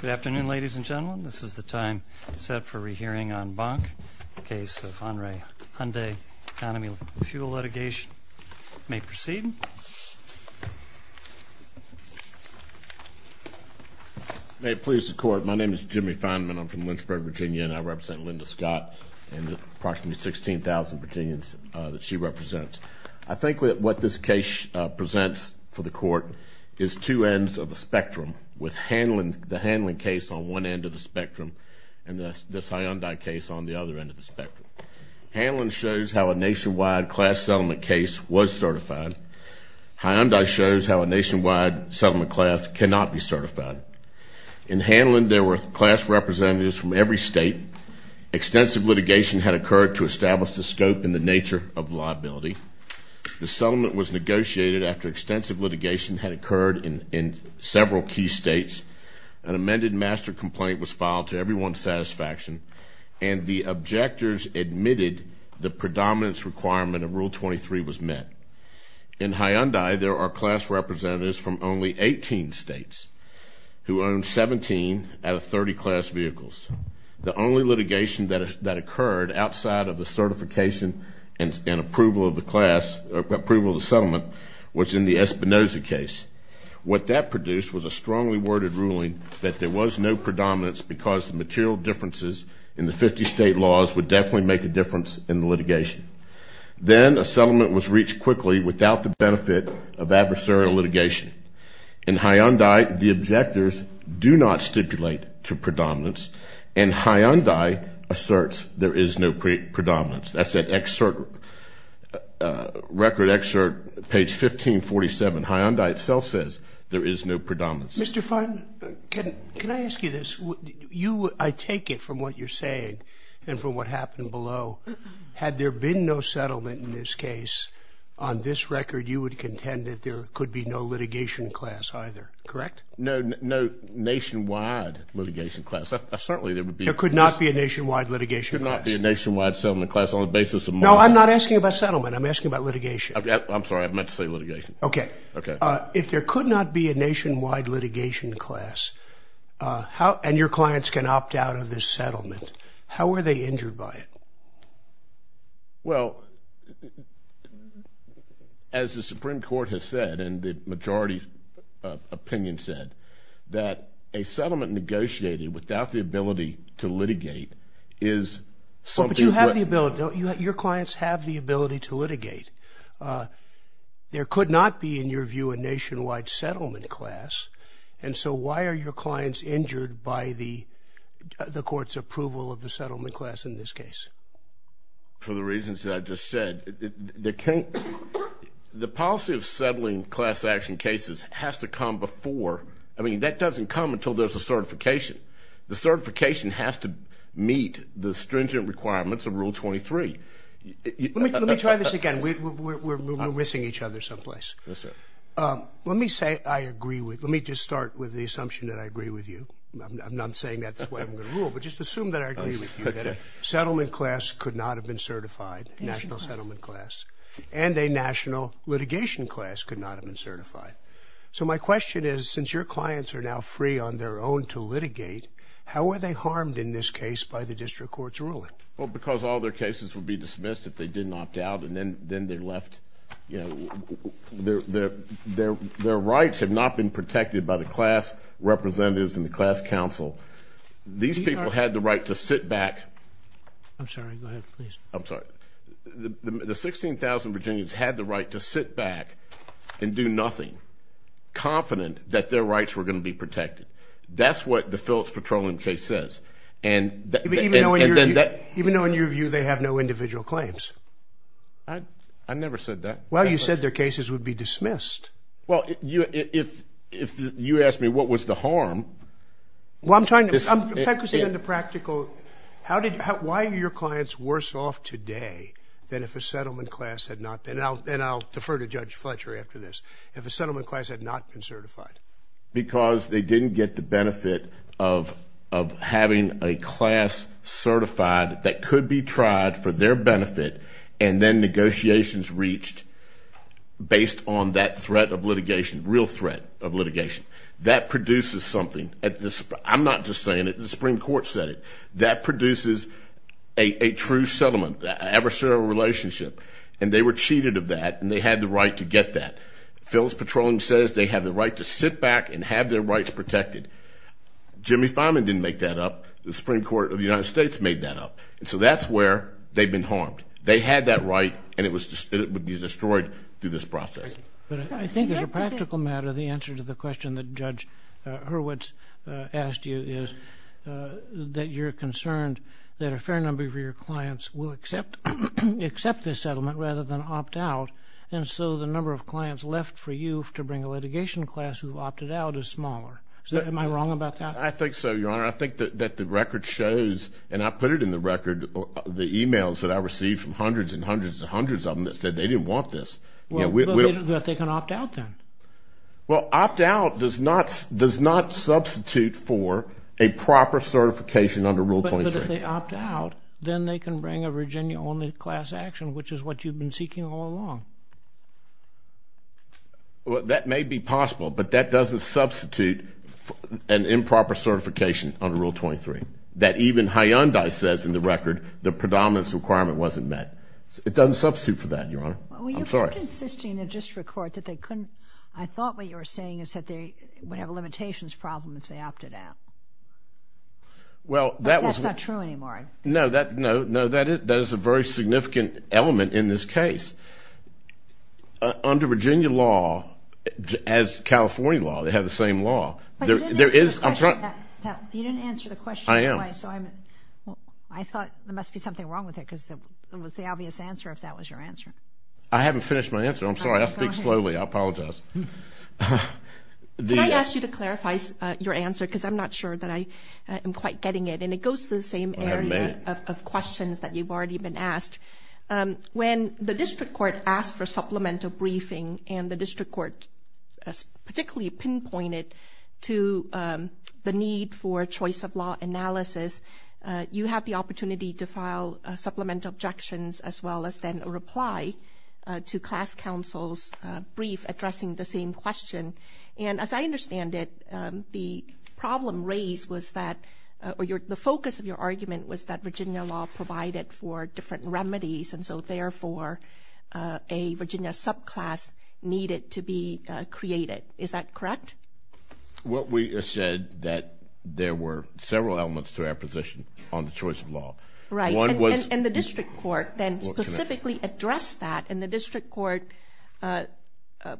Good afternoon, ladies and gentlemen. This is the time set for rehearing on Bonk, the case of Andre Hyundai, economy fuel litigation. May proceed. May it please the court, my name is Jimmy Feinman, I'm from Lynchburg, Virginia, and I represent Linda Scott and the approximately 16,000 Virginians that she represents. I think what this case presents for the court is two ends of the spectrum, with the Handling case on one end of the spectrum and this Hyundai case on the other end of the spectrum. Handling shows how a nationwide class settlement case was certified. Hyundai shows how a nationwide settlement class cannot be certified. In Handling there were class representatives from every state. Extensive litigation had occurred to establish the scope and the nature of liability. The settlement was negotiated after extensive litigation had occurred in several key states, an amended master complaint was filed to everyone's satisfaction, and the objectors admitted the predominance requirement of Rule 23 was met. In Hyundai there are class representatives from only 18 states who own 17 out of 30 class vehicles. The only litigation that occurred outside of the certification and approval of the settlement was in the Espinoza case. What that produced was a strongly worded ruling that there was no predominance because material differences in the 50 state laws would definitely make a difference in the litigation. Then a settlement was reached quickly without the benefit of adversarial litigation. In Hyundai the objectors do not stipulate to predominance and Hyundai asserts there is no predominance. That's an excerpt, record excerpt, page 1547. Hyundai itself says there is no predominance. Mr. Fudd, can I ask you this? You, I take it from what you're saying and from what happened below, had there been no settlement in this case, on this record you would contend that there could be no litigation class either, correct? No, no nationwide litigation class. Certainly there would be... There could not be a nationwide litigation class. There could not be a nationwide settlement class on the basis of... No, I'm not asking about settlement, I'm asking about litigation. I'm sorry, I meant to say litigation. Okay. Okay. If there could not be a nationwide litigation class and your clients can opt out of this settlement, how were they injured by it? Well, as the Supreme Court has said and the majority opinion said, that a settlement negotiated without the ability to litigate is something that... But you have the ability, your clients have the ability to litigate. There could not be in your view a nationwide settlement class and so why are your clients injured by the settlement class? For the reasons that I just said, the policy of settling class action cases has to come before... I mean, that doesn't come until there's a certification. The certification has to meet the stringent requirements of Rule 23. Let me try this again. We're missing each other someplace. Yes, sir. Let me say I agree with... Let me just start with the assumption that I agree with you. I'm not saying that's what I'm going to rule, but just assume that I agree with you, that a settlement class could not have been certified, national settlement class, and a national litigation class could not have been certified. So my question is, since your clients are now free on their own to litigate, how were they harmed in this case by the district court's ruling? Well, because all their cases would be dismissed if they did not opt out and then they left... Their rights have not been protected by the class representatives and the class council. These people had the right to sit back... I'm sorry. Go ahead, please. I'm sorry. The 16,000 Virginians had the right to sit back and do nothing, confident that their rights were going to be protected. That's what the Phillips patrolling case says. Even though, in your view, they have no individual claims? I never said that. Well, you said their cases would be dismissed. Well, if you asked me what was the harm... Well, I'm trying to understand the practical... Why are your clients worse off today than if a settlement class had not... And I'll defer to Judge Fletcher after this. If a settlement class had not been certified? Because they didn't get the benefit of having a class certified that could be tried for their benefit and then negotiations reached based on that threat of litigation, real threat of litigation. That produces something. I'm not just saying it. The Supreme Court said it. That produces a true settlement, an adversarial relationship. And they were cheated of that and they had the right to get that. Phillips patrolling says they have the right to sit back and have their rights protected. Jimmy Fineman didn't make that up. The Supreme Court of the United States made that up. And so that's where they've been harmed. They had that right and it would be destroyed through this process. But I think as a practical matter, the answer to the question that Judge Hurwitz asked you is that you're concerned that a fair number of your clients will accept this settlement rather than opt out. And so the number of clients left for you to bring a litigation class who opted out is smaller. Am I wrong about that? I think so, Your Honor. I think that the record shows, and I put it in the record, the emails that I received from hundreds and hundreds and hundreds of them that said they didn't want this. But they can opt out then. Well, opt out does not substitute for a proper certification under Rule 23. But if they opt out, then they can bring a Virginia-only class action, which is what you've been seeking all along. Well, that may be possible, but that doesn't substitute an improper certification under Rule 23. That even Hyundai says in the record the predominance requirement wasn't met. It doesn't substitute for that, Your Honor. I'm sorry. Well, you were insisting in the district court that they couldn't. I thought what you were saying is that they would have a limitations problem if they opted out. Well, that was not true anymore. No, that is a very significant element in this case. Under Virginia law, as California law, they have the same law. You didn't answer the question. I am. There may be something wrong with it because it was the obvious answer if that was your answer. I haven't finished my answer. I'm sorry. I speak slowly. I apologize. Can I ask you to clarify your answer because I'm not sure that I am quite getting it. And it goes to the same area of questions that you've already been asked. When the district court asked for supplemental briefing and the district court particularly pinpointed to the need for choice of law analysis, you had the opportunity to file supplemental objections as well as send a reply to class counsel's brief addressing the same question. And as I understand it, the problem raised was that the focus of your argument was that Virginia law provided for different remedies, and so, therefore, a Virginia subclass needed to be created. Is that correct? Well, we said that there were several elements to our position on the choice of law. Right. And the district court then specifically addressed that. And the district court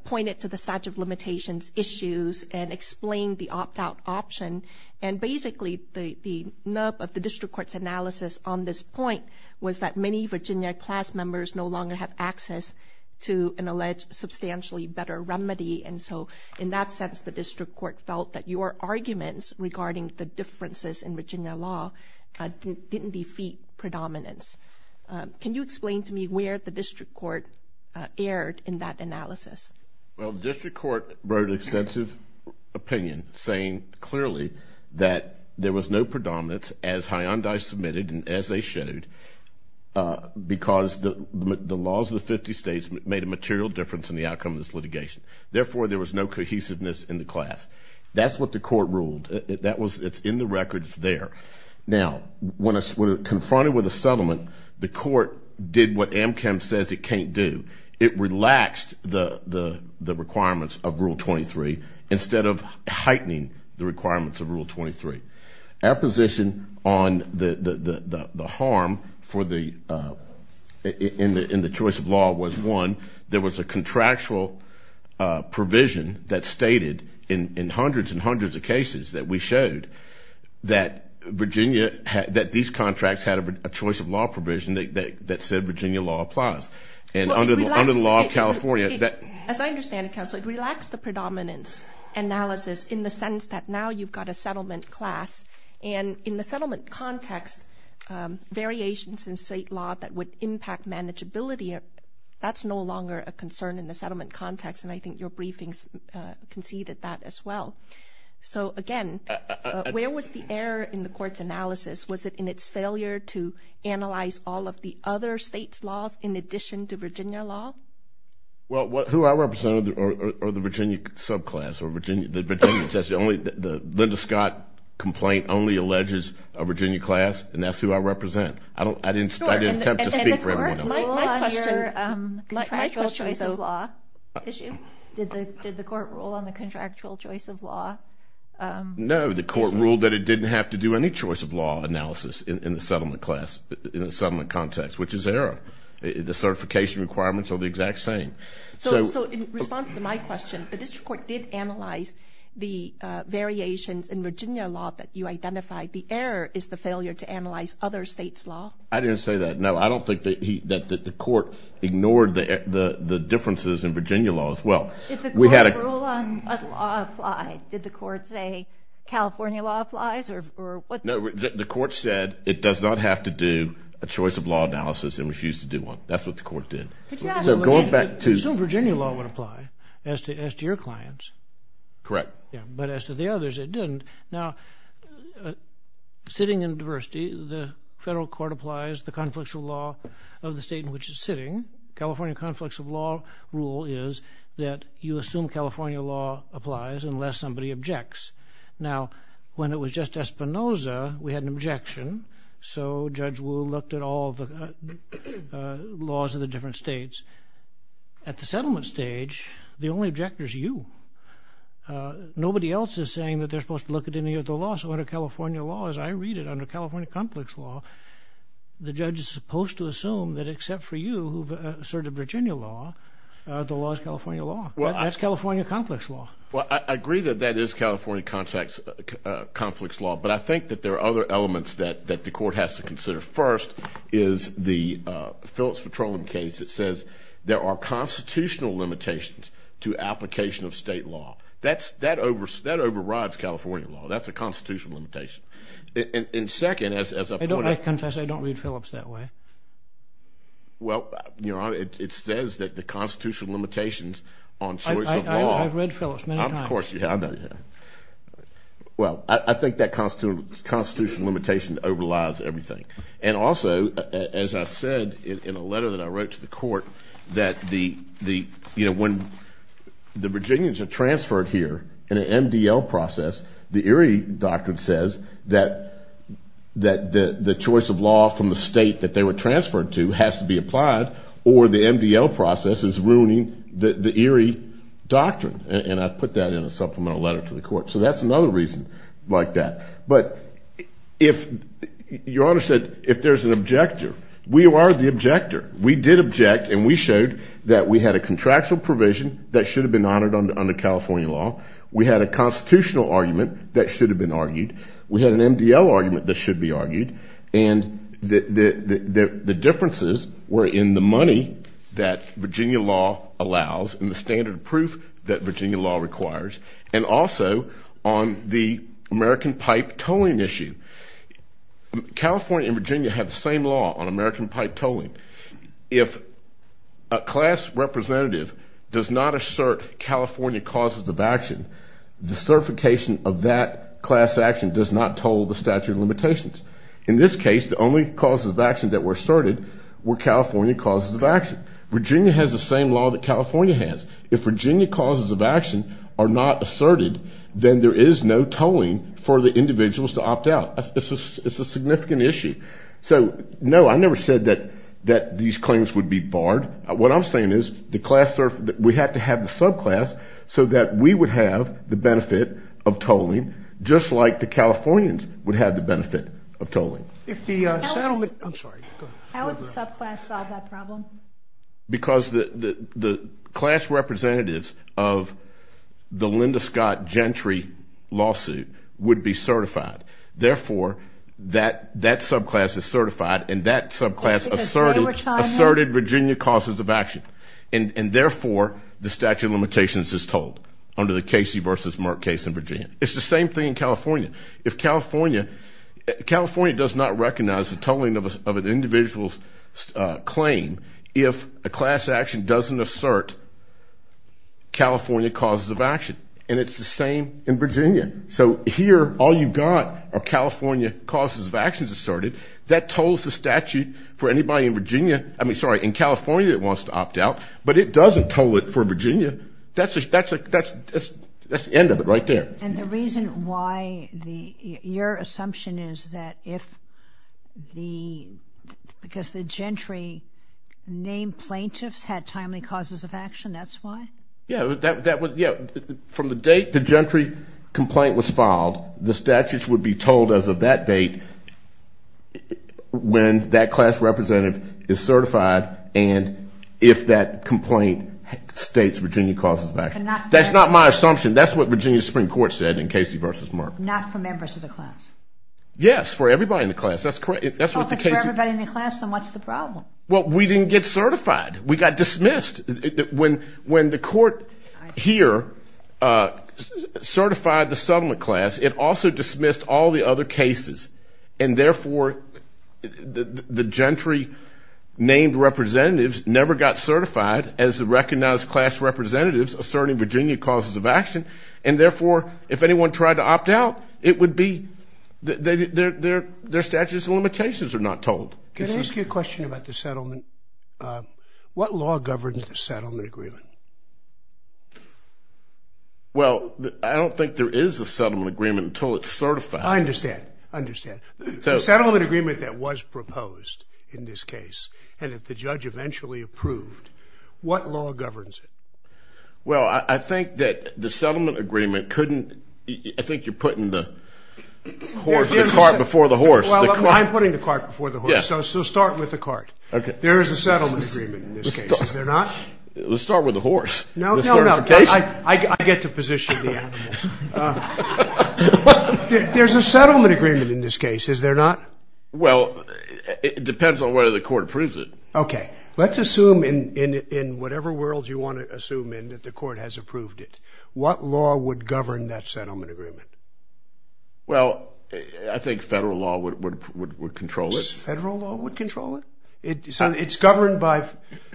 pointed to the statute of limitations issues and explained the opt-out option. And basically, the nub of the district court's analysis on this point was that many Virginia class members no longer have access to an alleged substantially better remedy. And so, in that sense, the district court felt that your arguments regarding the differences in Virginia law didn't defeat predominance. Can you explain to me where the district court erred in that analysis? Well, the district court brought extensive opinion, saying clearly that there was no predominance, as Hyandai submitted and as they showed, because the laws of the 50 states made a material difference in the outcome of this litigation. Therefore, there was no cohesiveness in the class. That's what the court ruled. It's in the records there. Now, when confronted with a settlement, the court did what Amchem says it can't do. It relaxed the requirements of Rule 23 instead of heightening the requirements of Rule 23. Our position on the harm in the choice of law was, one, there was a contractual provision that stated in hundreds and hundreds of cases that we showed that Virginia, that these contracts had a choice of law provision that said Virginia law applies. As I understand it, Counselor, it relaxed the predominance analysis in the sense that now you've got a settlement class. And in the settlement context, variations in state law that would impact manageability, that's no longer a concern in the settlement context, and I think your briefings conceded that as well. So, again, where was the error in the court's analysis? Was it in its failure to analyze all of the other states' laws in addition to Virginia law? Well, who I represent are the Virginia subclass or the Virginia class. The Linda Scott complaint only alleges a Virginia class, and that's who I represent. I didn't attempt to speak for everyone. Did the court rule on your contractual choice of law issue? No, the court ruled that it didn't have to do any choice of law analysis in the settlement context, which is error. The certification requirements are the exact same. So in response to my question, the district court did analyze the variations in Virginia law that you identified. The error is the failure to analyze other states' law. I didn't say that. No, I don't think that the court ignored the differences in Virginia law as well. If the court rule on a law applies, did the court say California law applies or what? No, the court said it does not have to do a choice of law analysis and refused to do one. That's what the court did. So going back to- So Virginia law would apply as to your clients. Correct. But as to the others, it didn't. Now, sitting in diversity, the federal court applies the conflictual law of the state in which it's sitting. California conflicts of law rule is that you assume California law applies unless somebody objects. Now, when it was just Espinoza, we had an objection. So Judge Wu looked at all the laws of the different states. At the settlement stage, the only objector is you. Nobody else is saying that they're supposed to look at any of the law. So under California law, as I read it, under California conflicts law, the judge is supposed to assume that except for you, who asserted Virginia law, the law is California law. That's California conflicts law. Well, I agree that that is California conflicts law, but I think that there are other elements that the court has to consider. First is the Phillips-Patron case that says there are constitutional limitations to application of state law. That overrides California law. That's a constitutional limitation. And second, as a point of- I don't read Phillips that way. Well, you know, it says that the constitutional limitations on choice of law- I've read Phillips many times. Of course you have. Well, I think that constitutional limitation overrides everything. And also, as I've said in a letter that I wrote to the court, that when the Virginians are transferred here in an MDL process, the Erie Doctrine says that the choice of law from the state that they were transferred to has to be applied, or the MDL process is ruining the Erie Doctrine. And I put that in a supplemental letter to the court. So that's another reason like that. But your Honor said if there's an objector, we are the objector. We did object, and we showed that we had a contractual provision that should have been honored under California law. We had a constitutional argument that should have been argued. We had an MDL argument that should be argued. And the differences were in the money that Virginia law allows and the standard proof that Virginia law requires, and also on the American pipe tolling issue. California and Virginia have the same law on American pipe tolling. If a class representative does not assert California causes of action, the certification of that class action does not toll the statute of limitations. In this case, the only causes of action that were asserted were California causes of action. Virginia has the same law that California has. If Virginia causes of action are not asserted, then there is no tolling for the individuals to opt out. It's a significant issue. So, no, I never said that these claims would be barred. What I'm saying is we have to have the subclass so that we would have the benefit of tolling, just like the Californians would have the benefit of tolling. I'm sorry. How would the subclass solve that problem? Because the class representatives of the Linda Scott Gentry lawsuit would be certified. Therefore, that subclass is certified, and that subclass asserted Virginia causes of action. And, therefore, the statute of limitations is tolled under the Casey versus Mark case in Virginia. California does not recognize the tolling of an individual's claim if a class action doesn't assert California causes of action. And it's the same in Virginia. So, here, all you've got are California causes of actions asserted. That tolls the statute for anybody in Virginia. I mean, sorry, in California it wants to opt out, but it doesn't toll it for Virginia. That's the end of it right there. And the reason why, your assumption is that if the, because the Gentry named plaintiffs had timely causes of action, that's why? Yeah, from the date the Gentry complaint was filed, the statutes would be tolled as of that date when that class representative is certified, and if that complaint states Virginia causes of action. That's not my assumption. That's what Virginia Supreme Court said in Casey versus Mark. Not for members of the class. Yes, for everybody in the class. That's correct. If it's for everybody in the class, then what's the problem? Well, we didn't get certified. We got dismissed. When the court here certified the settlement class, it also dismissed all the other cases. And therefore, the Gentry named representatives never got certified as the recognized class representatives asserting Virginia causes of action, and therefore, if anyone tried to opt out, it would be, their statutes and limitations are not tolled. Can I ask you a question about the settlement? What law governs the settlement agreement? Well, I don't think there is a settlement agreement until it's certified. I understand. I understand. The settlement agreement that was proposed in this case and that the judge eventually approved, what law governs it? Well, I think that the settlement agreement couldn't, I think you're putting the cart before the horse. Well, I'm putting the cart before the horse, so start with the cart. There is a settlement agreement in this case. Is there not? Let's start with the horse. No, no, no. I get to position the animals. There is a settlement agreement in this case. Is there not? Well, it depends on whether the court approves it. Okay. Let's assume in whatever world you want to assume in that the court has approved it. What law would govern that settlement agreement? Well, I think federal law would control it. Federal law would control it? It's governed by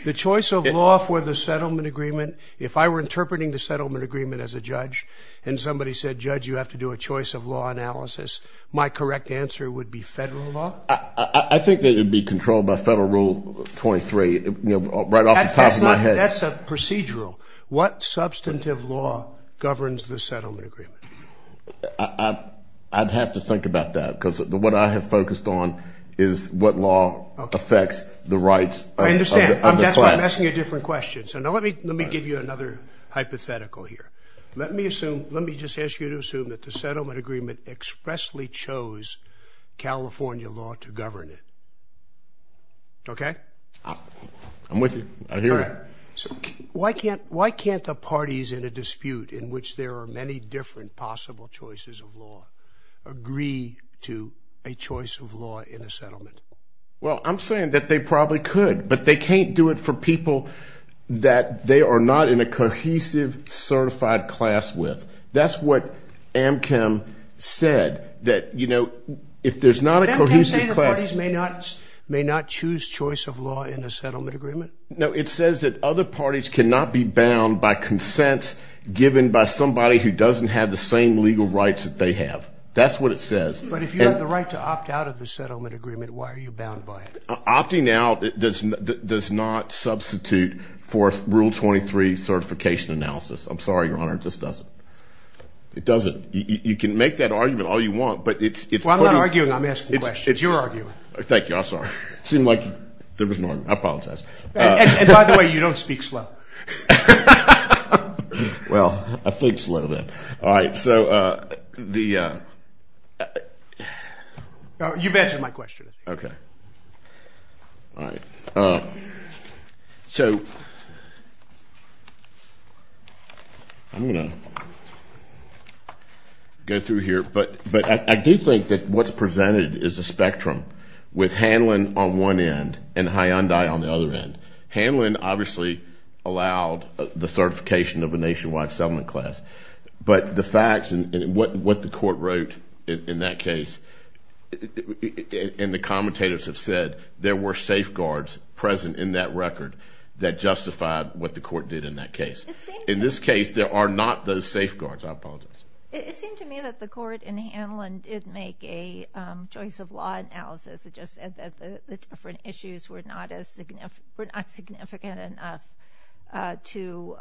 the choice of law for the settlement agreement. If I were interpreting the settlement agreement as a judge and somebody said, judge, you have to do a choice of law analysis, my correct answer would be federal law. I think that it would be controlled by federal rule 23, right off the top of my head. That's a procedural. What substantive law governs the settlement agreement? I'd have to think about that, because what I have focused on is what law affects the rights. I understand. That's why I'm asking you different questions. Now, let me give you another hypothetical here. Let me just ask you to assume that the settlement agreement expressly chose California law to govern it. Okay? I'm with you. I hear you. Why can't the parties in a dispute in which there are many different possible choices of law agree to a choice of law in a settlement? Well, I'm saying that they probably could, but they can't do it for people that they are not in a cohesive certified class with. That's what Amchem said, that, you know, if there's not a cohesive class. Amchem says parties may not choose choice of law in a settlement agreement? No, it says that other parties cannot be bound by consent given by somebody who doesn't have the same legal rights that they have. That's what it says. But if you have the right to opt out of the settlement agreement, why are you bound by it? Opting out does not substitute for Rule 23 certification analysis. I'm sorry, Your Honor, it just doesn't. It doesn't. You can make that argument all you want, but it's- Well, I'm not arguing. I'm asking the question. It's your argument. Thank you. I'm sorry. It seemed like there was more. I apologize. And by the way, you don't speak slow. Well, I think slow then. All right, so the- You've answered my question. Okay. All right. So I'm going to go through here. But I do think that what's presented is a spectrum with Hanlon on one end and Hyundai on the other end. Hanlon obviously allowed the certification of a nationwide settlement class. But the facts and what the court wrote in that case and the commentators have said, there were safeguards present in that record that justified what the court did in that case. In this case, there are not those safeguards. I apologize. It seemed to me that the court in the Hanlon did make a choice of law analysis that the different issues were not significant enough to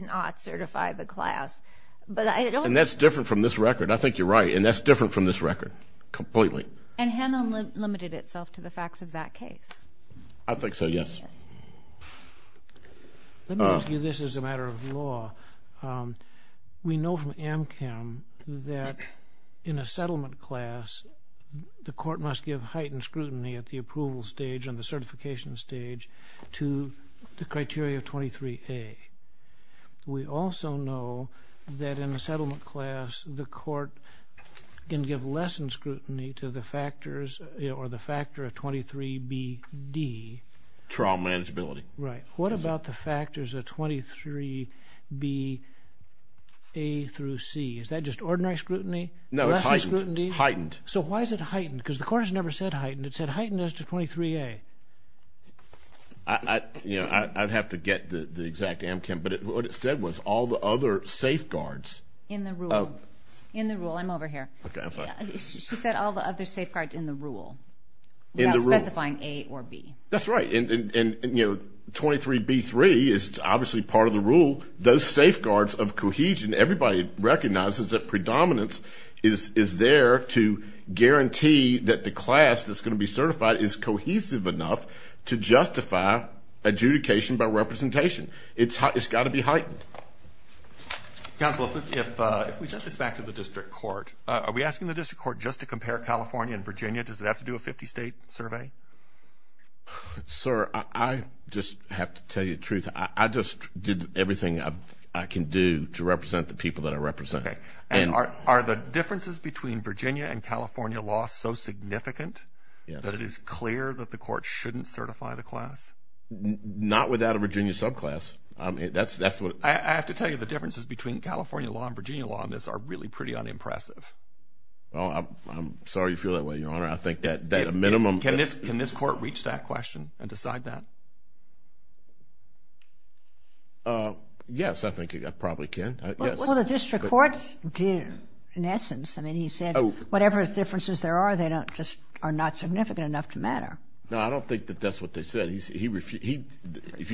not certify the class. But I don't- And that's different from this record. I think you're right. And that's different from this record completely. And Hanlon limited itself to the facts of that case. I think so, yes. Let me ask you this as a matter of law. We know from AMCAM that in a settlement class, the court must give heightened scrutiny at the approval stage and the certification stage to the criteria 23A. We also know that in a settlement class, the court can give less scrutiny to the factors or the factor of 23BD. Trial manageability. Right. What about the factors of 23BA through C? Is that just ordinary scrutiny? No, it's heightened. Heightened. So why is it heightened? Because the court has never said heightened. It said heightened is to 23A. I'd have to get the exact AMCAM. But what it said was all the other safeguards. In the rule. In the rule. I'm over here. She said all the other safeguards in the rule. In the rule. Not specifying A or B. That's right. And, you know, 23B3 is obviously part of the rule. Those safeguards of cohesion. Everybody recognizes that predominance is there to guarantee that the class that's going to be certified is cohesive enough to justify adjudication by representation. It's got to be heightened. Counsel, if we shift back to the district court, are we asking the district court just to compare California and Virginia? Does it have to do a 50-state survey? Sir, I just have to tell you the truth. I just did everything I can do to represent the people that I represent. Are the differences between Virginia and California law so significant that it is clear that the court shouldn't certify the class? Not without a Virginia subclass. I have to tell you the differences between California law and Virginia law on this are really pretty unimpressive. I'm sorry you feel that way, Your Honor. Can this court reach that question and decide that? Yes, I think it probably can. Well, the district courts do, in essence. I mean, he said whatever differences there are, they just are not significant enough to matter. No, I don't think that that's what they said. If you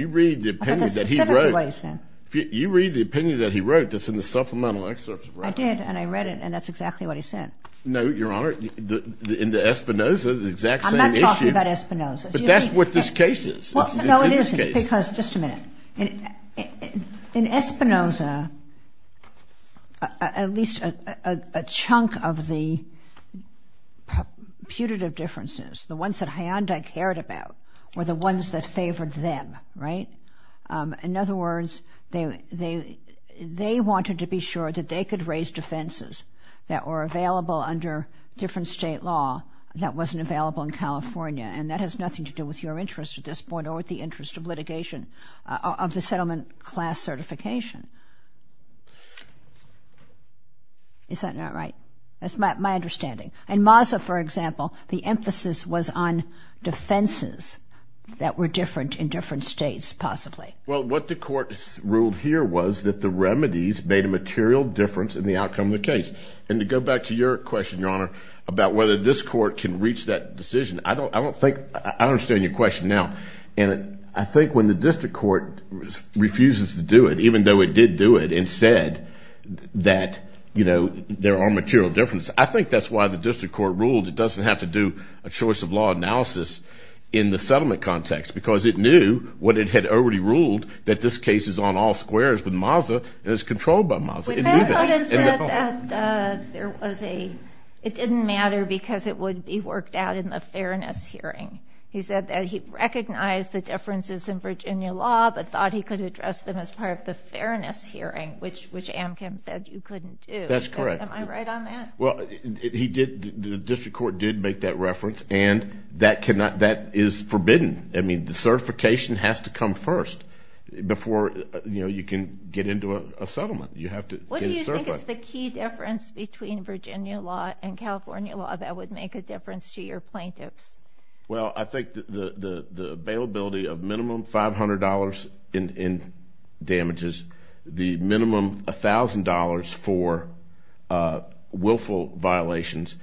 read the opinion that he wrote, that's in the supplemental excerpts. I did, and I read it, and that's exactly what he said. No, Your Honor, in the Espinoza, the exact same issue. I'm not talking about Espinoza. But that's what this case is. No, it isn't, because, just a minute. In Espinoza, at least a chunk of the putative differences, the ones that Hyundai cared about, were the ones that favored them, right? In other words, they wanted to be sure that they could raise defenses that were available under different state law that wasn't available in California. And that has nothing to do with your interest at this point or with the interest of litigation of the settlement class certification. Is that not right? That's my understanding. In Maza, for example, the emphasis was on defenses that were different in different states, possibly. Well, what the court ruled here was that the remedies made a material difference in the outcome of the case. And to go back to your question, Your Honor, about whether this court can reach that decision, I don't think, I don't understand your question now. And I think when the district court refuses to do it, even though it did do it and said that, you know, there are material differences, I think that's why the district court ruled it doesn't have to do a choice of law analysis in the settlement context. Because it knew what it had already ruled, that this case is on all squares with Maza and is controlled by Maza. It didn't matter because it would be worked out in the fairness hearing. He said that he recognized the differences in Virginia law but thought he could address them as part of the fairness hearing, which Amcan said you couldn't do. That's correct. Am I right on that? Well, he did, the district court did make that reference, and that cannot, that is forbidden. I mean, the certification has to come first before, you know, you can get into a settlement. You have to get a certification. What do you think is the key difference between Virginia law and California law that would make a difference to your plaintiffs? Well, I think the availability of minimum $500 in damages, the minimum $1,000 for willful violations,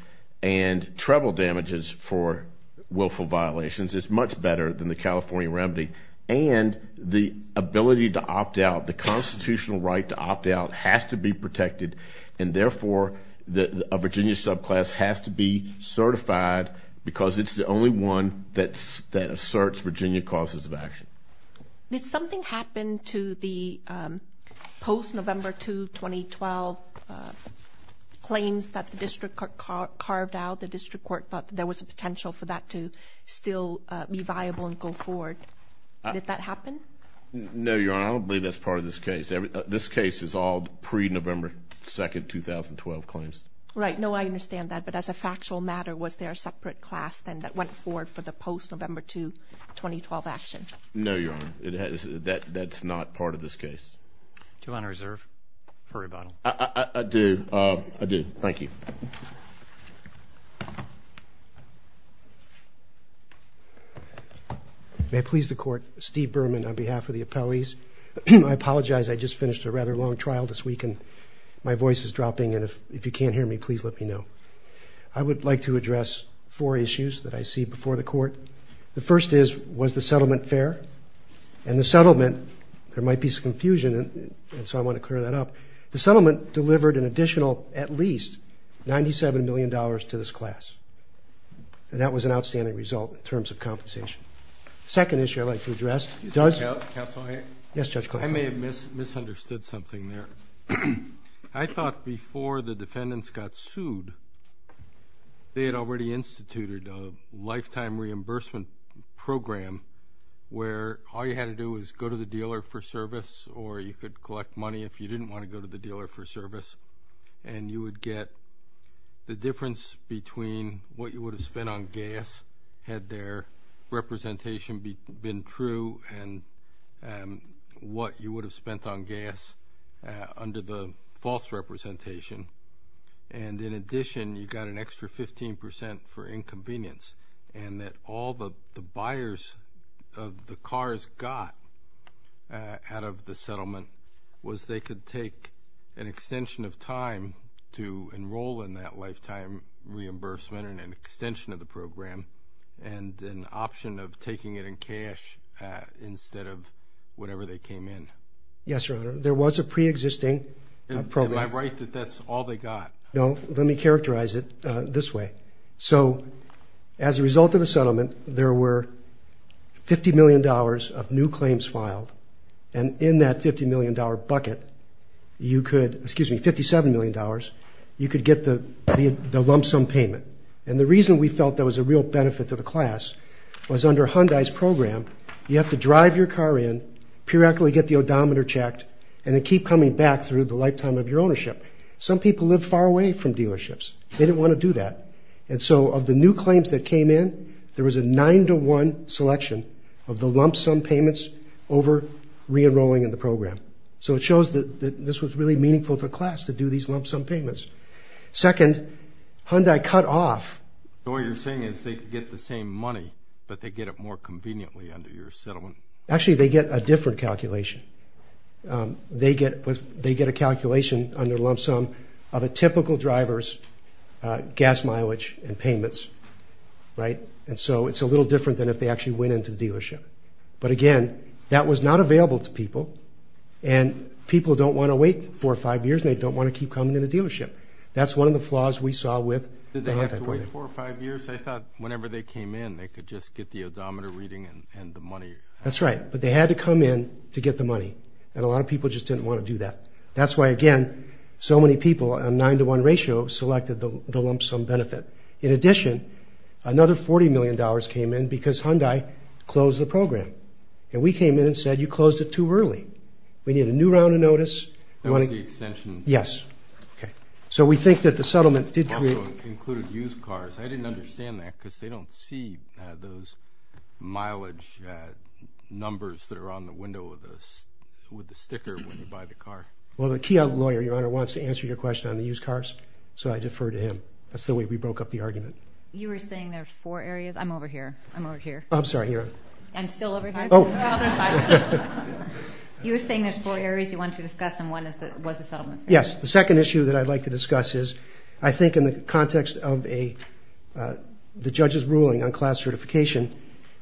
and treble damages for willful violations is much better than the California remedy. And the ability to opt out, the constitutional right to opt out has to be protected. And therefore, a Virginia subclass has to be certified because it's the only one that asserts Virginia causes of action. Did something happen to the post-November 2, 2012 claims that the district court carved out? The district court thought there was a potential for that to still be viable and go forward. Did that happen? No, Your Honor. I don't believe that's part of this case. This case is all pre-November 2, 2012 claims. Right. No, I understand that. But as a factual matter, was there a separate class then that went forward for the post-November 2, 2012 action? No, Your Honor. That's not part of this case. Do you want to reserve for rebuttal? I do. I do. Thank you. May I please the court? Steve Berman on behalf of the appellees. I apologize. I just finished a rather long trial this week, and my voice is dropping. And if you can't hear me, please let me know. I would like to address four issues that I see before the court. The first is, was the settlement fair? And the settlement, there might be some confusion, and so I want to clear that up. The settlement delivered an additional, at least, $97 million to this class. And that was an outstanding result in terms of compensation. The second issue I'd like to address does... Judge Cassano. Yes, Judge Clark. I may have misunderstood something there. I thought before the defendants got sued, they had already instituted a lifetime reimbursement program where all you had to do was go to the dealer for service, or you could collect money if you didn't want to go to the dealer for service, and you would get the difference between what you would have spent on gas, had their representation been true, and what you would have spent on gas under the false representation. And in addition, you got an extra 15% for inconvenience, and that all the buyers of the cars got out of the settlement was they could take an extension of time to enroll in that lifetime reimbursement and an option of taking it in cash instead of whenever they came in. Yes, Your Honor. There was a preexisting program. Am I right that that's all they got? No. Let me characterize it this way. So as a result of the settlement, there were $50 million of new claims filed, and in that $50 million bucket, you could, excuse me, $57 million, you could get the lump sum payment. And the reason we felt there was a real benefit to the class was under Hyundai's program, you have to drive your car in, periodically get the odometer checked, and then keep coming back through the lifetime of your ownership. Some people live far away from dealerships. They didn't want to do that. And so of the new claims that came in, there was a nine-to-one selection of the lump sum payments over re-enrolling in the program. So it shows that this was really meaningful for class to do these lump sum payments. Second, Hyundai cut off. So what you're saying is they could get the same money, but they get it more conveniently under your settlement. Actually, they get a different calculation. They get a calculation on their lump sum of a typical driver's gas mileage and payments. And so it's a little different than if they actually went into the dealership. But again, that was not available to people. And people don't want to wait four or five years, and they don't want to keep coming in the dealership. That's one of the flaws we saw with the half-employment. Did they have to wait four or five years? I thought whenever they came in, they could just get the odometer reading and the money. That's right. But they had to come in to get the money, and a lot of people just didn't want to do that. That's why, again, so many people on a nine-to-one ratio selected the lump sum benefit. In addition, another $40 million came in because Hyundai closed the program. And we came in and said, you closed it too early. We need a new round of notice. That was the extension. Yes. Okay. So we think that the settlement did create – Also included used cars. I didn't understand that because they don't see those mileage numbers that are on the window of the – with the sticker when you buy the car. Well, the Keogh lawyer, Your Honor, wants to answer your question on the used cars, so I deferred to him. That's the way we broke up the argument. You were saying there's four areas. I'm over here. I'm over here. I'm sorry, Your Honor. I'm still over here. Oh. You were saying there's four areas you wanted to discuss, and one was the settlement. Yes. The second issue that I'd like to discuss is I think in the context of a – the judge's ruling on class certification,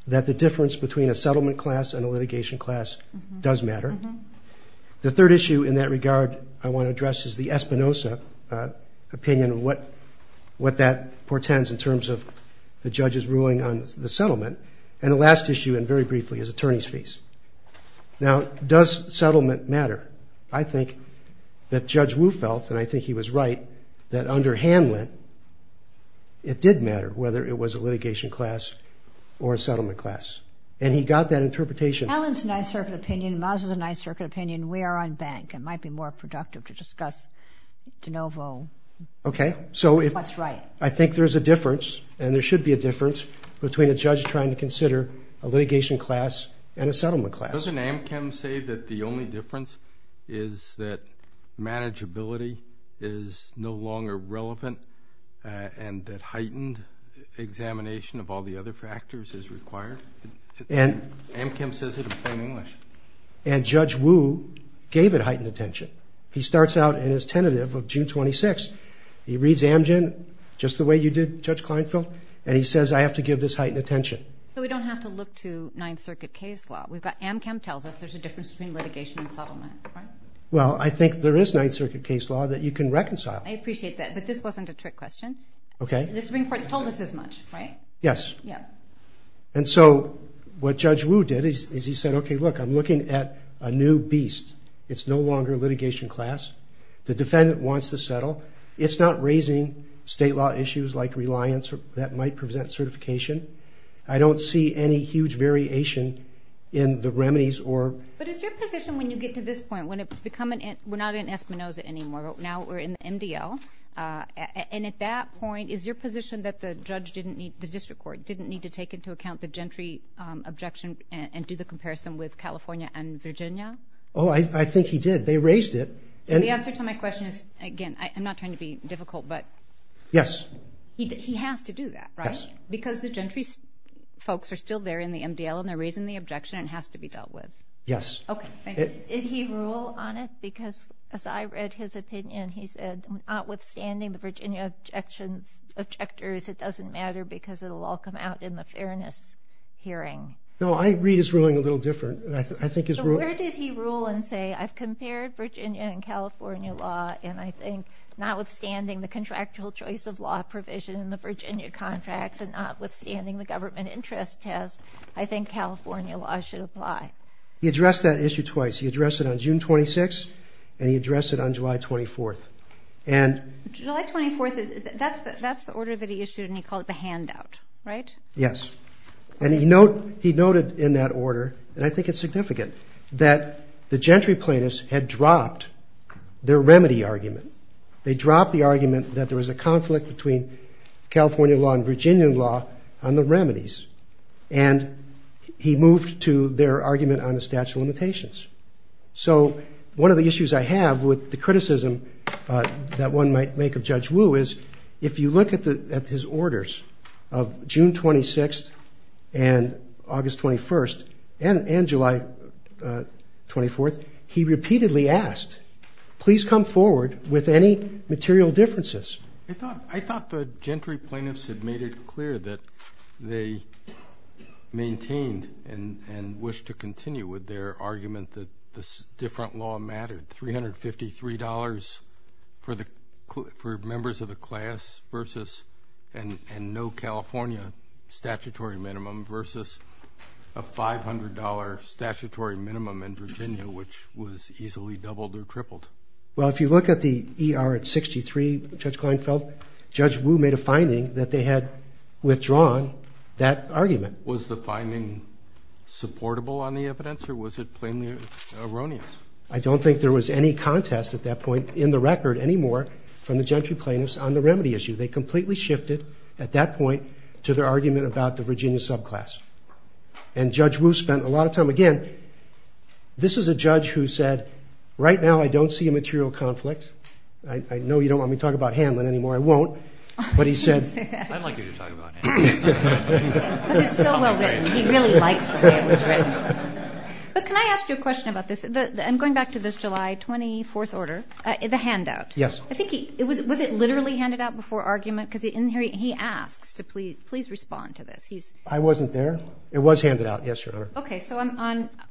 that the difference between a settlement class and a litigation class does matter. The third issue in that regard I want to address is the Espinosa opinion and what that portends in terms of the judge's ruling on the settlement. And the last issue, and very briefly, is attorneys' fees. Now, does settlement matter? I think that Judge Wu felt, and I think he was right, that under Hanlon it did matter whether it was a litigation class or a settlement class, and he got that interpretation. Hanlon's a Ninth Circuit opinion. Mazza's a Ninth Circuit opinion. We are on bank. It might be more productive to discuss de novo. Okay. That's right. I think there's a difference, and there should be a difference, between a judge trying to consider a litigation class and a settlement class. Doesn't Amchem say that the only difference is that manageability is no longer relevant and that heightened examination of all the other factors is required? Amchem says it in plain English. And Judge Wu gave it heightened attention. He starts out in his tentative of June 26th. He reads Amgen just the way you did, Judge Kleinfeld, and he says, I have to give this heightened attention. So we don't have to look to Ninth Circuit case law. Amchem tells us there's a difference between litigation and settlement, right? Well, I think there is Ninth Circuit case law that you can reconcile. I appreciate that, but this wasn't a trick question. Okay. The Supreme Court told us as much, right? Yes. Yes. And so what Judge Wu did is he said, okay, look, I'm looking at a new beast. It's no longer a litigation class. The defendant wants to settle. It's not raising state law issues like reliance that might present certification. I don't see any huge variation in the remedies or – But is your position when you get to this point, when it's becoming – we're not in Espinoza anymore. Now we're in the MDL. And at that point, is your position that the judge didn't need – the district court didn't need to take into account the gentry objection and do the comparison with California and Virginia? Oh, I think he did. They raised it. The answer to my question is, again, I'm not trying to be difficult, but – Yes. He has to do that, right? Yes. Because the gentry folks are still there in the MDL, and they're raising the objection, and it has to be dealt with. Yes. Okay, thank you. Did he rule on it? Because as I read his opinion, he said, notwithstanding the Virginia objectors, it doesn't matter because it will all come out in the fairness hearing. No, I read his ruling a little different. So where did he rule and say, I've compared Virginia and California law, and I think notwithstanding the contractual choice of law provision in the Virginia contracts and notwithstanding the government interest test, I think California law should apply? He addressed that issue twice. He addressed it on June 26th, and he addressed it on July 24th. July 24th, that's the order that he issued, and he called it the handout, right? Yes. And he noted in that order, and I think it's significant, that the gentry plaintiffs had dropped their remedy argument. They dropped the argument that there was a conflict between California law and Virginia law on the remedies, and he moved to their argument on the statute of limitations. So one of the issues I have with the criticism that one might make of Judge Wu is, if you look at his orders of June 26th and August 21st and July 24th, he repeatedly asked, please come forward with any material differences. I thought the gentry plaintiffs had made it clear that they maintained and wished to continue with their argument that this different law mattered, $353 for members of the class and no California statutory minimum versus a $500 statutory minimum in Virginia, which was easily doubled or tripled. Well, if you look at the ER at 63, Judge Kleinfeld, Judge Wu made a finding that they had withdrawn that argument. Was the finding supportable on the evidence, or was it plainly erroneous? I don't think there was any contest at that point in the record anymore from the gentry plaintiffs on the remedy issue. They completely shifted at that point to their argument about the Virginia subclass. And Judge Wu spent a lot of time, again, this is a judge who said, right now I don't see a material conflict. I know you don't want me to talk about Hanlon anymore. I won't. But he said... I'd like you to talk about Hanlon. He really likes Hanlon. But can I ask you a question about this? I'm going back to this July 24th order, the handout. Yes. Was it literally handed out before argument? Because he asks to please respond to this. I wasn't there. It was handed out. Yes, Your Honor. Okay, so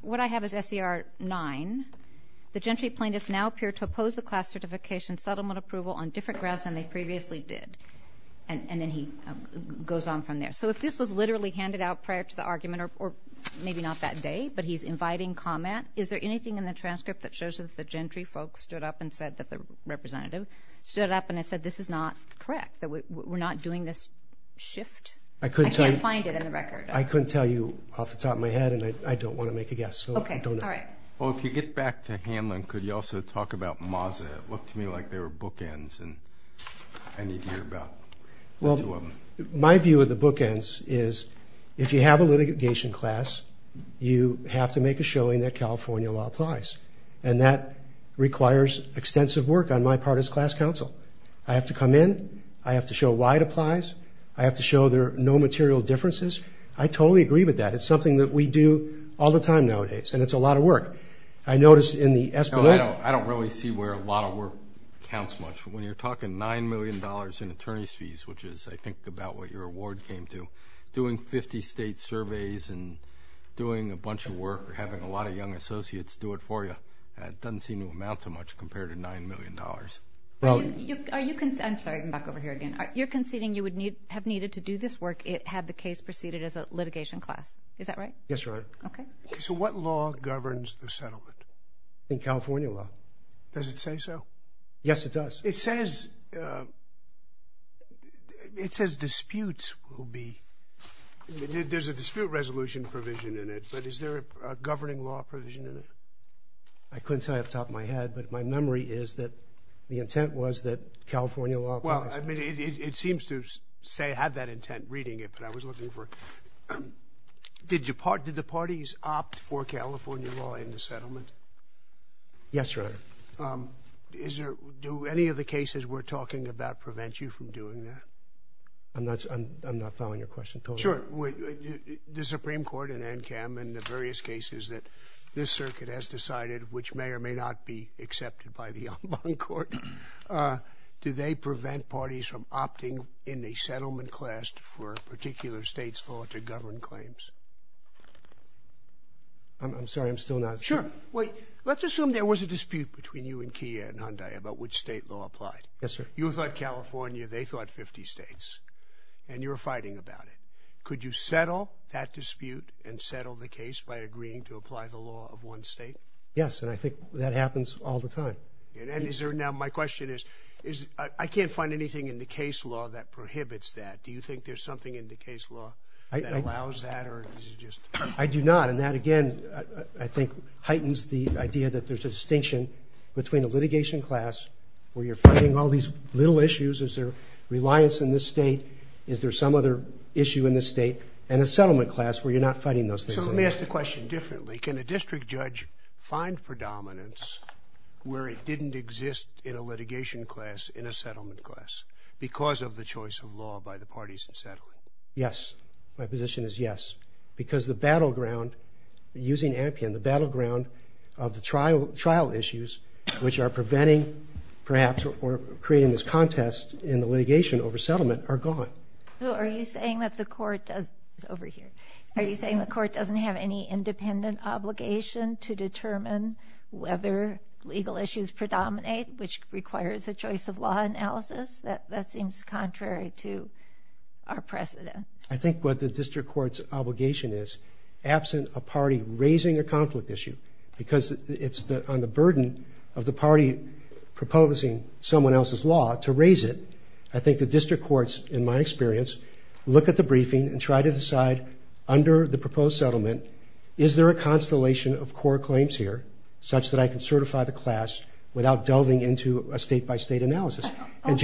what I have is SER 9. The gentry plaintiffs now appear to oppose the class certification settlement approval on different grounds than they previously did. And then he goes on from there. So if this was literally handed out prior to the argument or maybe not that day, but he's inviting comment. Is there anything in the transcript that shows that the gentry folks stood up and said that the representatives stood up and said, this is not correct, that we're not doing this shift? I couldn't tell you. I can't find it in the record. I couldn't tell you off the top of my head, and I don't want to make a guess. Okay, all right. Well, if you get back to Hanlon, could you also talk about Maza? It looked to me like there were bookends, and I need to hear about those two of them. My view of the bookends is if you have a litigation class, you have to make a showing that California law applies. And that requires extensive work. On my part, it's class counsel. I have to come in. I have to show why it applies. I have to show there are no material differences. I totally agree with that. It's something that we do all the time nowadays, and it's a lot of work. I noticed in the escalation... No, I don't really see where a lot of work counts much. When you're talking $9 million in attorney's fees, which is, I think, about what your award came to, doing 50 state surveys and doing a bunch of work or having a lot of young associates do it for you, that doesn't seem to amount to much compared to $9 million. I'm sorry. I'm back over here again. You're conceding you would have needed to do this work had the case proceeded as a litigation class. Is that right? Yes, ma'am. Okay. So what law governs the settlement in California law? Does it say so? Yes, it does. It says disputes will be... There's a dispute resolution provision in it, but is there a governing law provision in it? I couldn't say off the top of my head, but my memory is that the intent was that California law... Well, I mean, it seems to say it had that intent reading it, but I was looking for... Did the parties opt for California law in the settlement? Yes, sir. Do any of the cases we're talking about prevent you from doing that? I'm not following your question totally. Sure. The Supreme Court and NCAM and the various cases that this circuit has decided, which may or may not be accepted by the Ombud Court, do they prevent parties from opting in a settlement class for a particular state's fault or government claims? I'm sorry. I'm still not... Sure. Wait. Let's assume there was a dispute between you and Kia and Hyundai about which state law applied. Yes, sir. You thought California, they thought 50 states, and you were fighting about it. Could you settle that dispute and settle the case by agreeing to apply the law of one state? Yes, and I think that happens all the time. Now, my question is, I can't find anything in the case law that prohibits that. Do you think there's something in the case law that allows that? I do not, and that, again, I think heightens the idea that there's a distinction between a litigation class where you're fighting all these little issues, is there reliance in this state, is there some other issue in this state, and a settlement class where you're not fighting those cases. So let me ask the question differently. Can a district judge find predominance where it didn't exist in a litigation class in a settlement class because of the choice of law by the parties in settlement? Yes. My position is yes. Because the battleground, using Ampion, the battleground of the trial issues, which are preventing, perhaps, or creating this contest in the litigation over settlement, are gone. So are you saying that the court does... Over here. Are you saying the court doesn't have any independent obligation to determine whether legal issues predominate, which requires a choice of law analysis? That seems contrary to our precedent. I think what the district court's obligation is, absent a party raising a conflict issue, because it's on the burden of the party proposing someone else's law to raise it, I think the district courts, in my experience, look at the briefing and try to decide, under the proposed settlement, is there a constellation of core claims here such that I can certify the class without delving into a state-by-state analysis? On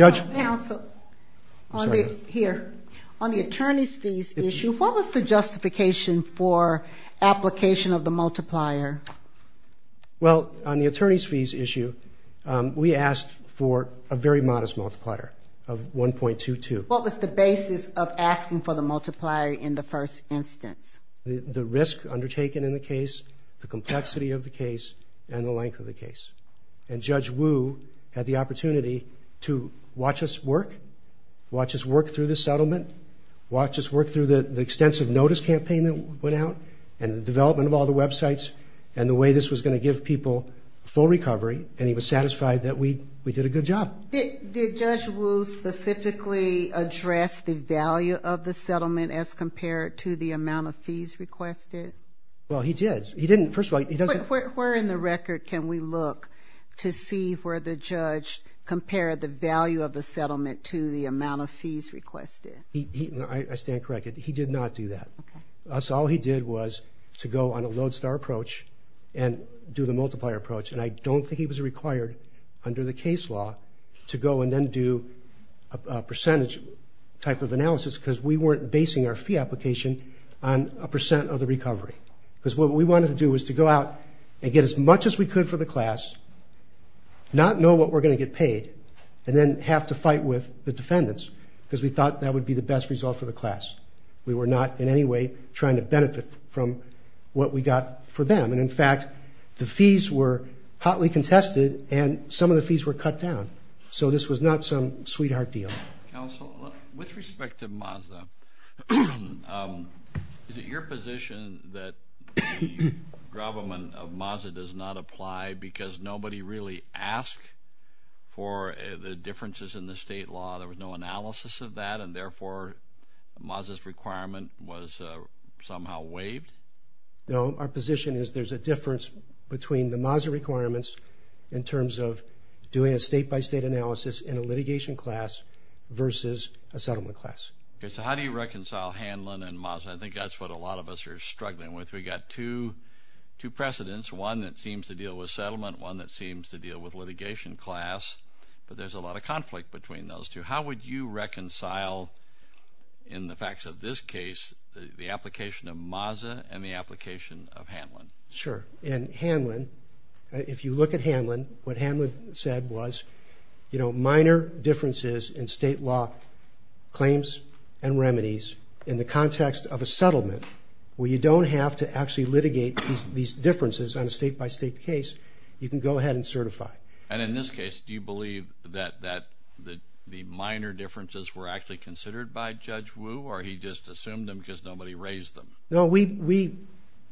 the attorney's fees issue, what was the justification for application of the multiplier? Well, on the attorney's fees issue, we asked for a very modest multiplier of 1.22. What was the basis of asking for the multiplier in the first instance? The risk undertaken in the case, the complexity of the case, and the length of the case. And Judge Wu had the opportunity to watch us work, watch us work through the settlement, watch us work through the extensive notice campaign that we put out, and the development of all the websites, and the way this was going to give people full recovery, and he was satisfied that we did a good job. Did Judge Wu specifically address the value of the settlement as compared to the amount of fees requested? Well, he did. He didn't, first of all... Where in the record can we look to see where the judge compared the value of the settlement to the amount of fees requested? I stand corrected. He did not do that. All he did was to go on a lodestar approach and do the multiplier approach, and I don't think he was required under the case law to go and then do a percentage type of analysis because we weren't basing our fee application on a percent of the recovery. Because what we wanted to do was to go out and get as much as we could for the class, not know what we're going to get paid, and then have to fight with the defendants because we thought that would be the best result for the class. We were not in any way trying to benefit from what we got for them. And, in fact, the fees were hotly contested and some of the fees were cut down. So this was not some sweetheart deal. Counsel, with respect to Mazda, is it your position that the government of Mazda does not apply because nobody really asked for the differences in the state law? There was no analysis of that, and therefore Mazda's requirement was somehow waived? No, our position is there's a difference between the Mazda requirements in terms of doing a state-by-state analysis in a litigation class versus a settlement class. Okay, so how do you reconcile Hanlon and Mazda? I think that's what a lot of us are struggling with. We've got two precedents, one that seems to deal with settlement, one that seems to deal with litigation class, but there's a lot of conflict between those two. How would you reconcile, in the facts of this case, the application of Mazda and the application of Hanlon? Sure, and Hanlon, if you look at Hanlon, what Hanlon said was, you know, there are minor differences in state law claims and remedies in the context of a settlement where you don't have to actually litigate these differences on a state-by-state case. You can go ahead and certify. And in this case, do you believe that the minor differences were actually considered by Judge Wu, or he just assumed them because nobody raised them? No, we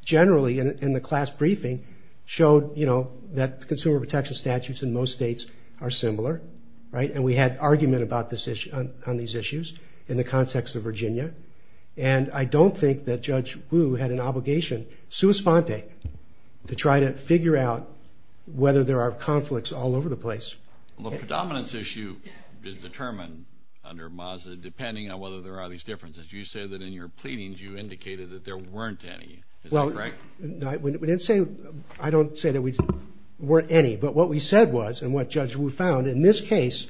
generally, in the class briefing, showed, you know, that consumer protection statutes in most states are similar, right? And we had argument on these issues in the context of Virginia. And I don't think that Judge Wu had an obligation, sua sponte, to try to figure out whether there are conflicts all over the place. Well, the predominance issue is determined under Mazda depending on whether there are these differences. You said that in your pleadings, you indicated that there weren't any. Is that correct? We didn't say... I don't say that there weren't any, but what we said was, and what Judge Wu found, in this case,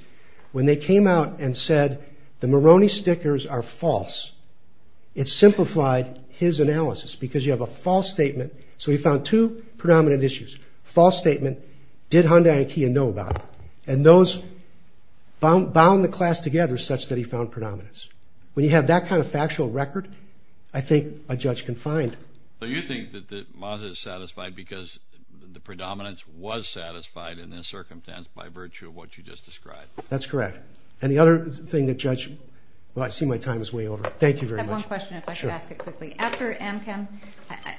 when they came out and said the Moroni stickers are false, it simplified his analysis because you have a false statement. So he found two predominant issues. False statement, did Hyundai and Kia know about it? And those bound the class together such that he found predominance. When you have that kind of factual record, I think a judge can find... So you think that Mazda is satisfied because the predominance was satisfied in this circumstance by virtue of what you just described? That's correct. And the other thing that Judge... Well, I see my time is way over. Thank you very much. I have one question, if I could ask it quickly. After Amchem,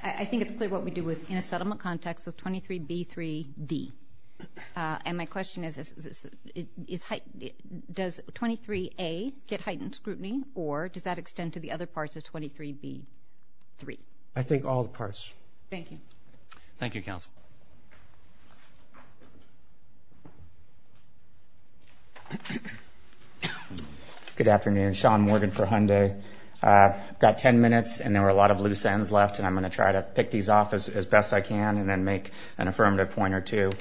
I think it's what we do in a settlement context with 23B3B. And my question is, does 23A get heightened scrutiny, or does that extend to the other parts of 23B3? I think all the parts. Thank you. Thank you, counsel. Good afternoon. Sean Morgan for Hyundai. I've got 10 minutes, and there were a lot of loose ends left, and I'm going to try to pick these off as best I can and then make an affirmative point or two.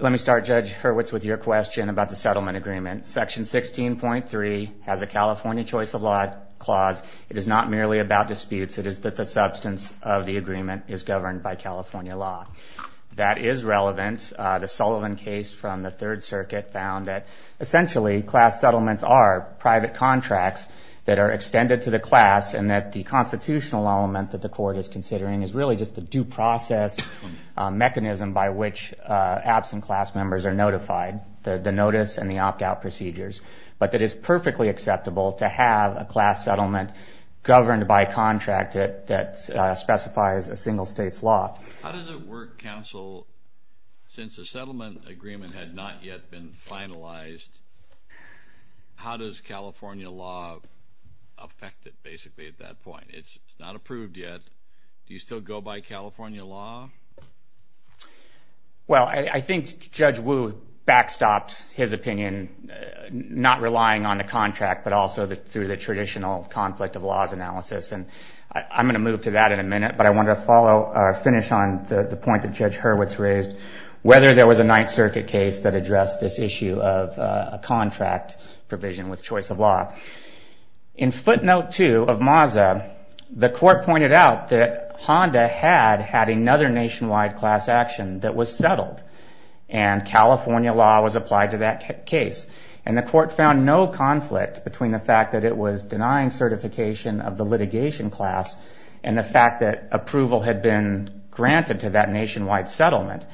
Let me start, Judge Hurwitz, with your question about the settlement agreement. Section 16.3 has a California choice of law clause. It is not merely about disputes. It is that the substance of the agreement is governed by California law. That is relevant. The Sullivan case from the Third Circuit found that essentially class settlements are private contracts that are extended to the class and that the constitutional element that the court is considering is really just a due process mechanism by which absent class members are notified, the notice and the opt-out procedures, but that it's perfectly acceptable to have a class settlement governed by a contract that specifies a single state's law. How does it work, counsel, since the settlement agreement had not yet been finalized? How does California law affect it, basically, at that point? It's not approved yet. Do you still go by California law? Well, I think Judge Wu backstops his opinion, not relying on the contract, but also through the traditional conflict of laws analysis, and I'm going to move to that in a minute, but I want to finish on the point that Judge Hurwitz raised, whether there was a Ninth Circuit case that addressed this issue of a contract provision with choice of law. In Split Note 2 of MAZA, the court pointed out that Honda had had another nationwide class action that was settled, and California law was applied to that case. And the court found no conflict between the fact that it was denying certification of the litigation class and the fact that approval had been granted to that nationwide settlement.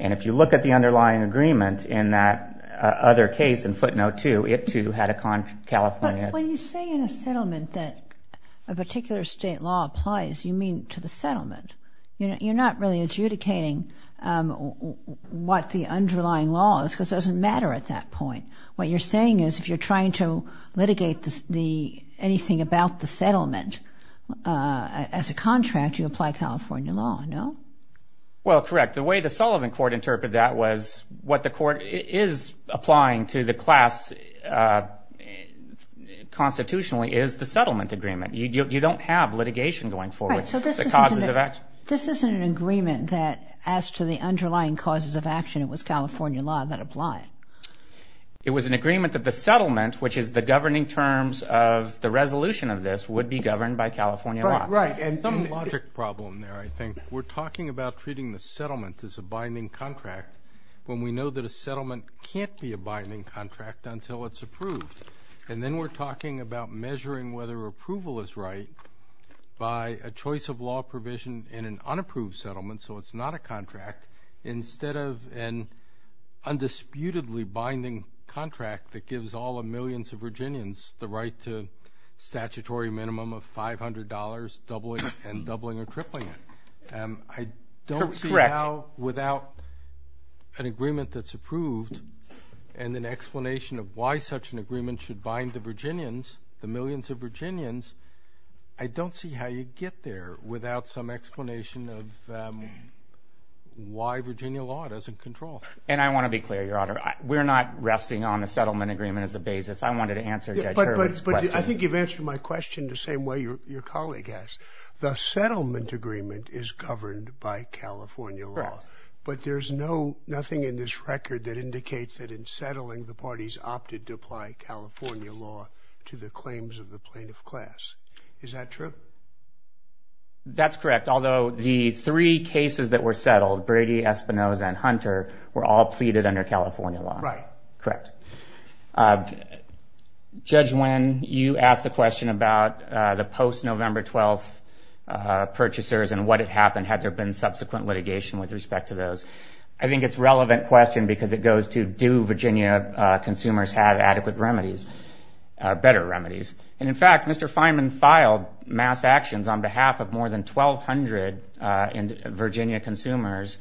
And if you look at the underlying agreement in that other case in Split Note 2, it, too, had a California... that a particular state law applies, you mean to the settlement. You're not really adjudicating what the underlying law is, because it doesn't matter at that point. What you're saying is, if you're trying to litigate anything about the settlement as a contract, you apply California law, no? Well, correct. The way the Sullivan Court interpreted that was what the court is applying to the class constitutionally is the settlement agreement. You don't have litigation going forward. This isn't an agreement that as to the underlying causes of action, it was California law that applied. It was an agreement that the settlement, which is the governing terms of the resolution of this, would be governed by California law. Right, and some logic problem there, I think. We're talking about treating the settlement as a binding contract when we know that a settlement can't be a binding contract until it's approved. And then we're talking about measuring whether approval is right by a choice of law provision in an unapproved settlement, so it's not a contract, instead of an undisputedly binding contract that gives all the millions of Virginians the right to statutory minimum of $500, doubling and tripling it. I don't see how without an agreement that's approved and an explanation of why such an agreement should bind the Virginians, the millions of Virginians, I don't see how you'd get there without some explanation of why Virginia law doesn't control. And I want to be clear, Your Honor. We're not resting on a settlement agreement as a basis. I wanted to answer Judge Hurley's question. But I think you've answered my question the same way your colleague has. The settlement agreement is governed by California law. Correct. But there's nothing in this record that indicates that in settling, the parties opted to apply California law to the claims of the plaintiff class. Is that true? That's correct. Although the three cases that were settled, Brady, Espinoza, and Hunter, were all pleaded under California law. Right. Correct. Judge Wynn, you asked a question about the post-November 12th purchasers and what had happened had there been subsequent litigation with respect to those. I think it's a relevant question because it goes to do Virginia consumers have adequate remedies, better remedies. And, in fact, Mr. Fineman filed mass actions on behalf of more than 1,200 Virginia consumers,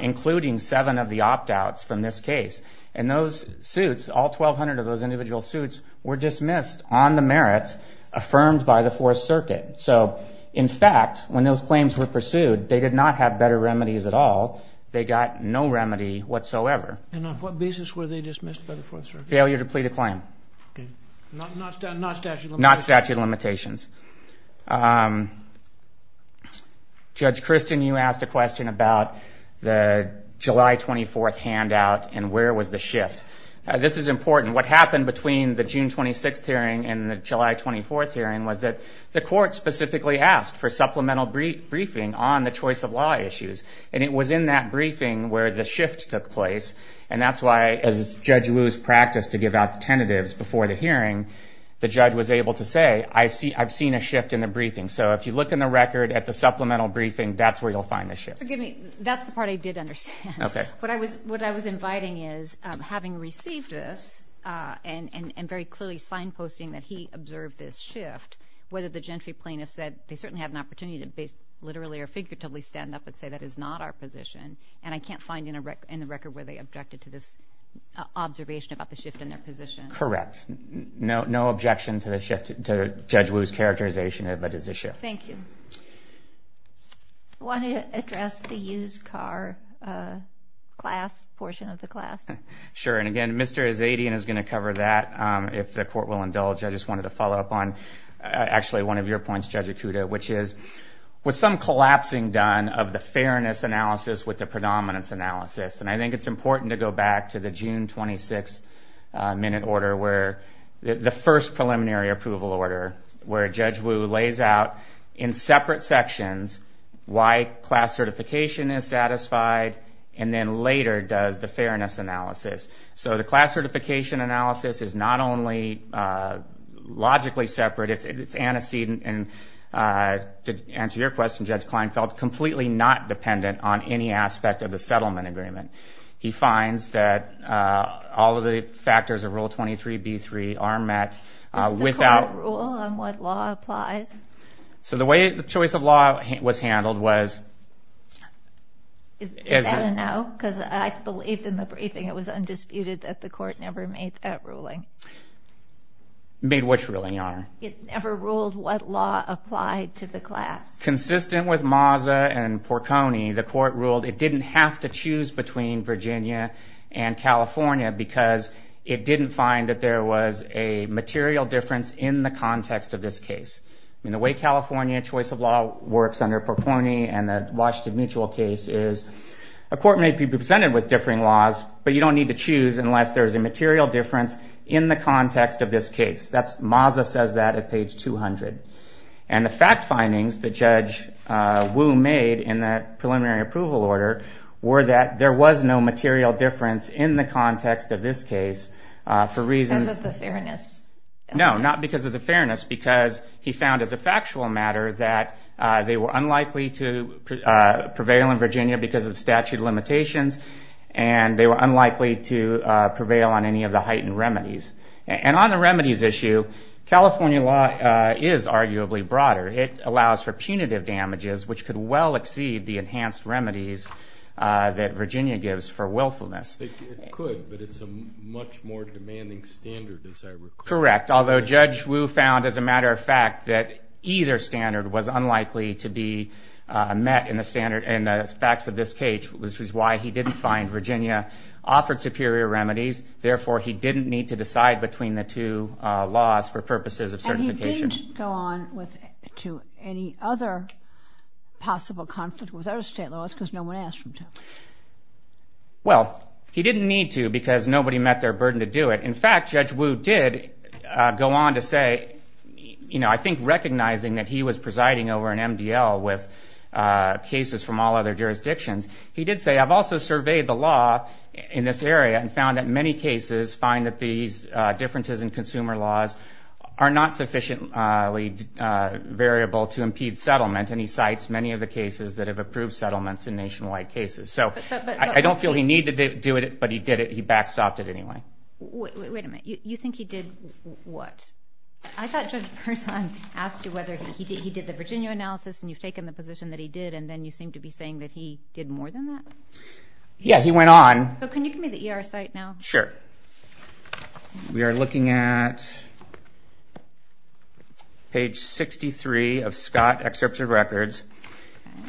including seven of the opt-outs from this case. And those suits, all 1,200 of those individual suits, were dismissed on the merits affirmed by the Fourth Circuit. So, in fact, when those claims were pursued, they did not have better remedies at all. They got no remedy whatsoever. And on what basis were they dismissed by the Fourth Circuit? Failure to plead a claim. Okay. Not statute of limitations? Not statute of limitations. Judge Christin, you asked a question about the July 24th handout and where was the shift. This is important. What happened between the June 26th hearing and the July 24th hearing was that the court specifically asked for supplemental briefing on the choice-of-law issues. And it was in that briefing where the shift took place. And that's why, as Judge Liu's practice to give out the tentatives before the hearing, the judge was able to say, I've seen a shift in the briefing. So, if you look in the record at the supplemental briefing, that's where you'll find the shift. Forgive me. That's the part I did understand. Okay. What I was inviting is, having received this and very clearly signposting that he observed this shift, whether the gentry plaintiff said they certainly had an opportunity to literally or figuratively stand up and say that is not our position, and I can't find in the record where they objected to this observation about the shift in their position. Correct. No objection to Judge Wu's characterization of it as a shift. Thank you. I want to address the used car class, portion of the class. Sure. And again, Mr. Azadian is going to cover that if the court will indulge. I just wanted to follow up on, actually, one of your points, Judge Ikuda, which is with some collapsing done of the fairness analysis with the predominance analysis, and I think it's important to go back to the June 26th minute order where the first preliminary approval order where Judge Wu lays out in separate sections why class certification is satisfied and then later does the fairness analysis. So, the class certification analysis is not only logically separate, it's antecedent, and to answer your question, Judge Klein felt completely not dependent on any aspect of the settlement agreement. He finds that all of the factors of Rule 23b-3 are met without... The court rule on what law applies. So, the way the choice of law was handled was... I don't know, because I believe in the briefing it was undisputed that the court never made that ruling. Made which ruling, Your Honor? It never ruled what law applied to the class. Consistent with Maza and Porconi, the court ruled it didn't have to choose between Virginia and California because it didn't find that there was a material difference in the context of this case. And the way California choice of law works under Porconi and the Washington Mutual case is but you don't need to choose unless there's a material difference in the context of this case. Maza says that at page 200. And the fact findings that Judge Wu made in the preliminary approval order were that there was no material difference in the context of this case for reasons... Because of the fairness. No, not because of the fairness, because he found as a factual matter that they were unlikely to prevail in Virginia because of statute limitations and they were unlikely to prevail on any of the heightened remedies. And on the remedies issue, California law is arguably broader. It allows for punitive damages which could well exceed the enhanced remedies that Virginia gives for willfulness. It could, but it's a much more demanding standard. Correct. Although Judge Wu found, as a matter of fact, that either standard was unlikely to be met in the facts of this case. Which is why he didn't find Virginia offered superior remedies. Therefore, he didn't need to decide between the two laws for purposes of certification. And he didn't go on to any other possible conflict with other state laws because no one asked him to. Well, he didn't need to because nobody met their burden to do it. In fact, Judge Wu did go on to say, I think recognizing that he was presiding over an MDL with cases from all other jurisdictions, he did say, I've also surveyed the law in this area and found that many cases find that these differences in consumer laws are not sufficiently variable to impede settlement. And he cites many of the cases that have approved settlements in nationwide cases. So I don't feel he needed to do it, but he did it. He backstopped it anyway. Wait a minute. You think he did what? I thought Judge Bernstein asked you whether he did the Virginia analysis and you've taken the position that he did, and then you seem to be saying that he did more than that. Yeah, he went on. Can you give me the ER site now? Sure. We are looking at page 63 of Scott Excerpts of Records.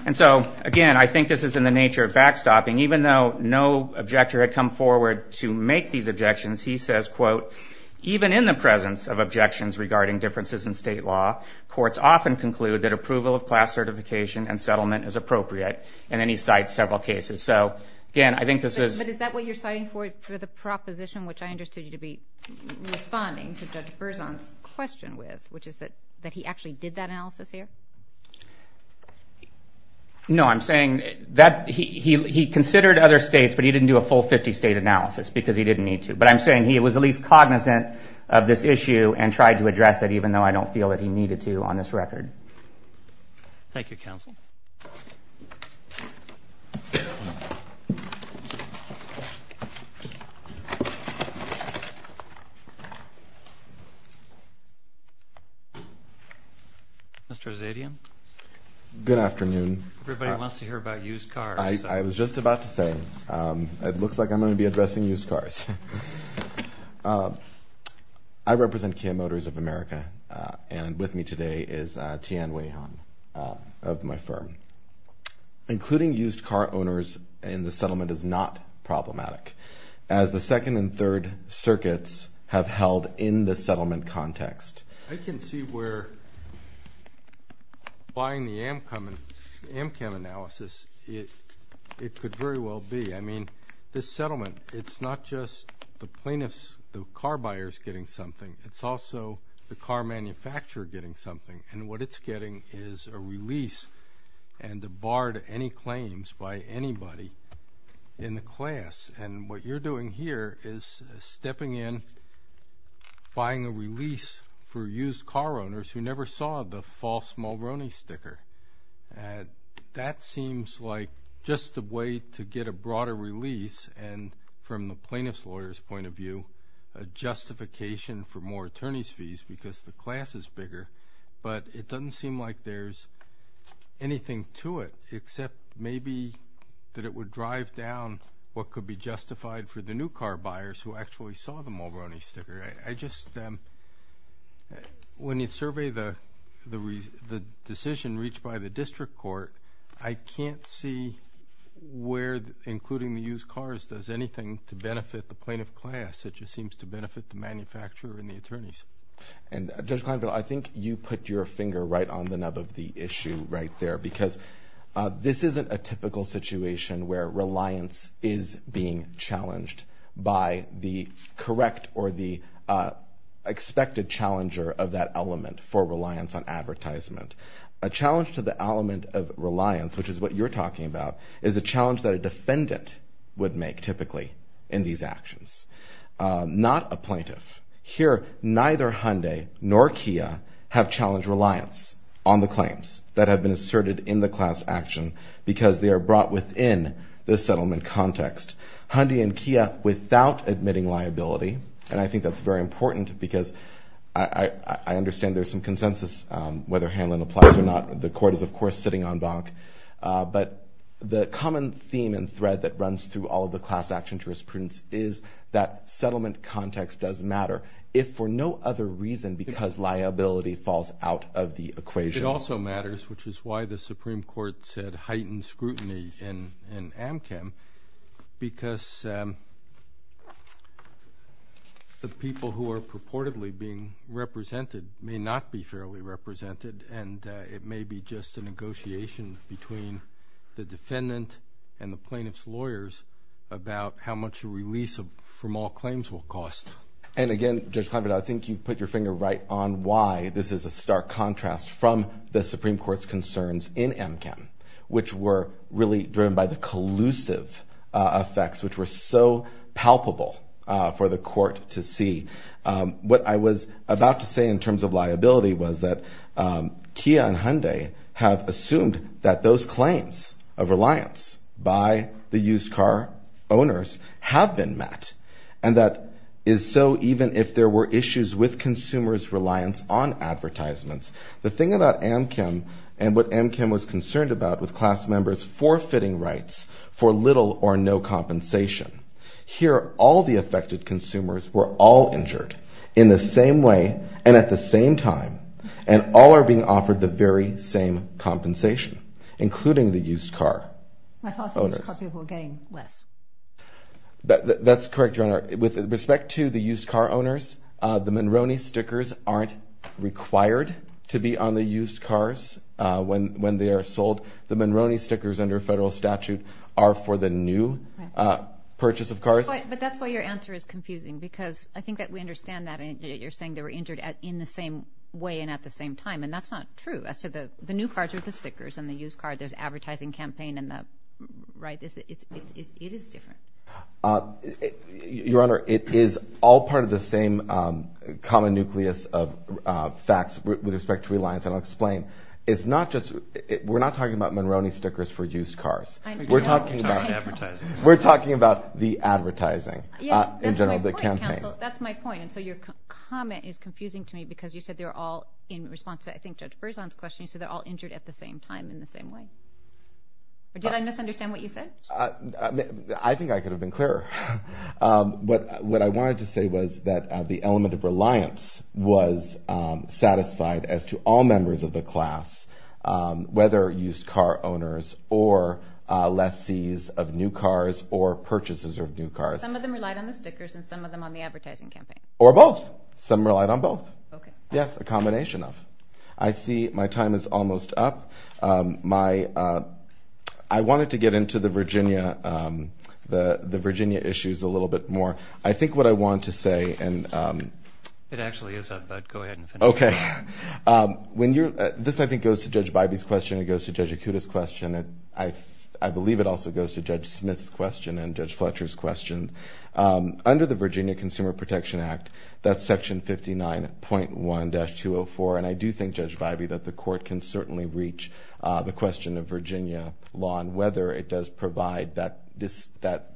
And so, again, I think this is in the nature of backstopping. Even though no objector had come forward to make these objections, he says, quote, even in the presence of objections regarding differences in state law, courts often conclude that approval of class certification and settlement is appropriate. And then he cites several cases. So, again, I think this is – But is that what you're citing for the proposition, which I understood you to be responding to Judge Berzon's question with, which is that he actually did that analysis there? No, I'm saying that he considered other states, but he didn't do a full 50-state analysis because he didn't need to. But I'm saying he was at least cognizant of this issue and tried to address it even though I don't feel that he needed to on this record. Thank you, counsel. Mr. Zedian? Good afternoon. Everybody wants to hear about used cars. I was just about to say. It looks like I'm going to be addressing used cars. All right. I represent Kia Motors of America, and with me today is Tian Weihong of my firm. Including used car owners in the settlement is not problematic, as the second and third circuits have held in the settlement context. I can see where buying the Amcam analysis, it could very well be. I mean, this settlement, it's not just the plaintiffs, the car buyers getting something. It's also the car manufacturer getting something. And what it's getting is a release and a bar to any claims by anybody in the class. And what you're doing here is stepping in, buying a release for used car owners who never saw the false Mulroney sticker. That seems like just a way to get a broader release, and from the plaintiff's lawyer's point of view, a justification for more attorney's fees because the class is bigger. But it doesn't seem like there's anything to it, except maybe that it would drive down what could be justified for the new car buyers who actually saw the Mulroney sticker. I just, when you survey the decision reached by the district court, I can't see where, including the used cars, does anything to benefit the plaintiff class. It just seems to benefit the manufacturer and the attorneys. And Judge Condo, I think you put your finger right on the nub of the issue right there, because this isn't a typical situation where reliance is being challenged by the correct or the expected challenger of that element for reliance on advertisement. A challenge to the element of reliance, which is what you're talking about, is a challenge that a defendant would make typically in these actions, not a plaintiff. Here, neither Hyundai nor Kia have challenged reliance on the claims that have been asserted in the class action because they are brought within the settlement context. Hyundai and Kia, without admitting liability, and I think that's very important because I understand there's some consensus whether Hanlon applies or not. The court is, of course, sitting on Bank. But the common theme and thread that runs through all of the class action jurisprudence is that settlement context does matter, if for no other reason, because liability falls out of the equation. It also matters, which is why the Supreme Court said heightened scrutiny in Amchem, because the people who are purportedly being represented may not be fairly represented, and it may be just a negotiation between the defendant and the plaintiff's lawyers about how much a release from all claims will cost. And again, Judge Condo, I think you put your finger right on why this is a stark contrast from the Supreme Court's concerns in Amchem, which were really driven by the collusive effects, which were so palpable for the court to see. What I was about to say in terms of liability was that Kia and Hyundai have assumed that those claims of reliance by the used car owners have been met, and that is so even if there were issues with consumers' reliance on advertisements. The thing about Amchem and what Amchem was concerned about with class members forfeiting rights for little or no compensation, here all the affected consumers were all injured in the same way and at the same time, and all are being offered the very same compensation, including the used car owners. I thought the used car people were getting less. That's correct, Your Honor. With respect to the used car owners, the Monroney stickers aren't required to be on the used cars when they are sold. The Monroney stickers under federal statute are for the new purchase of cars. But that's why your answer is confusing, because I think that we understand that. You're saying they were injured in the same way and at the same time, and that's not true. The new cars are the stickers, and the used cars are the advertising campaign. It is different. Your Honor, it is all part of the same common nucleus of facts with respect to reliance. I'll explain. We're not talking about Monroney stickers for used cars. We're talking about the advertising in general, the campaign. That's my point. Your comment is confusing to me, because you said they're all in response to, I think, Judge Berzon's question. You said they're all injured at the same time in the same way. Did I misunderstand what you said? I think I could have been clearer. What I wanted to say was that the element of reliance was satisfied as to all members of the class, whether used car owners or lessees of new cars or purchases of new cars. Some of them relied on the stickers and some of them on the advertising campaign. Or both. Some relied on both. Okay. Yes, a combination of. I see my time is almost up. I wanted to get into the Virginia issues a little bit more. I think what I want to say and – It actually is. Go ahead. Okay. This, I think, goes to Judge Bybee's question. It goes to Judge Akuta's question. I believe it also goes to Judge Smith's question and Judge Fletcher's question. Under the Virginia Consumer Protection Act, that's Section 59.1-204, and I do think, Judge Bybee, that the court can certainly reach the question of Virginia law and whether it does provide that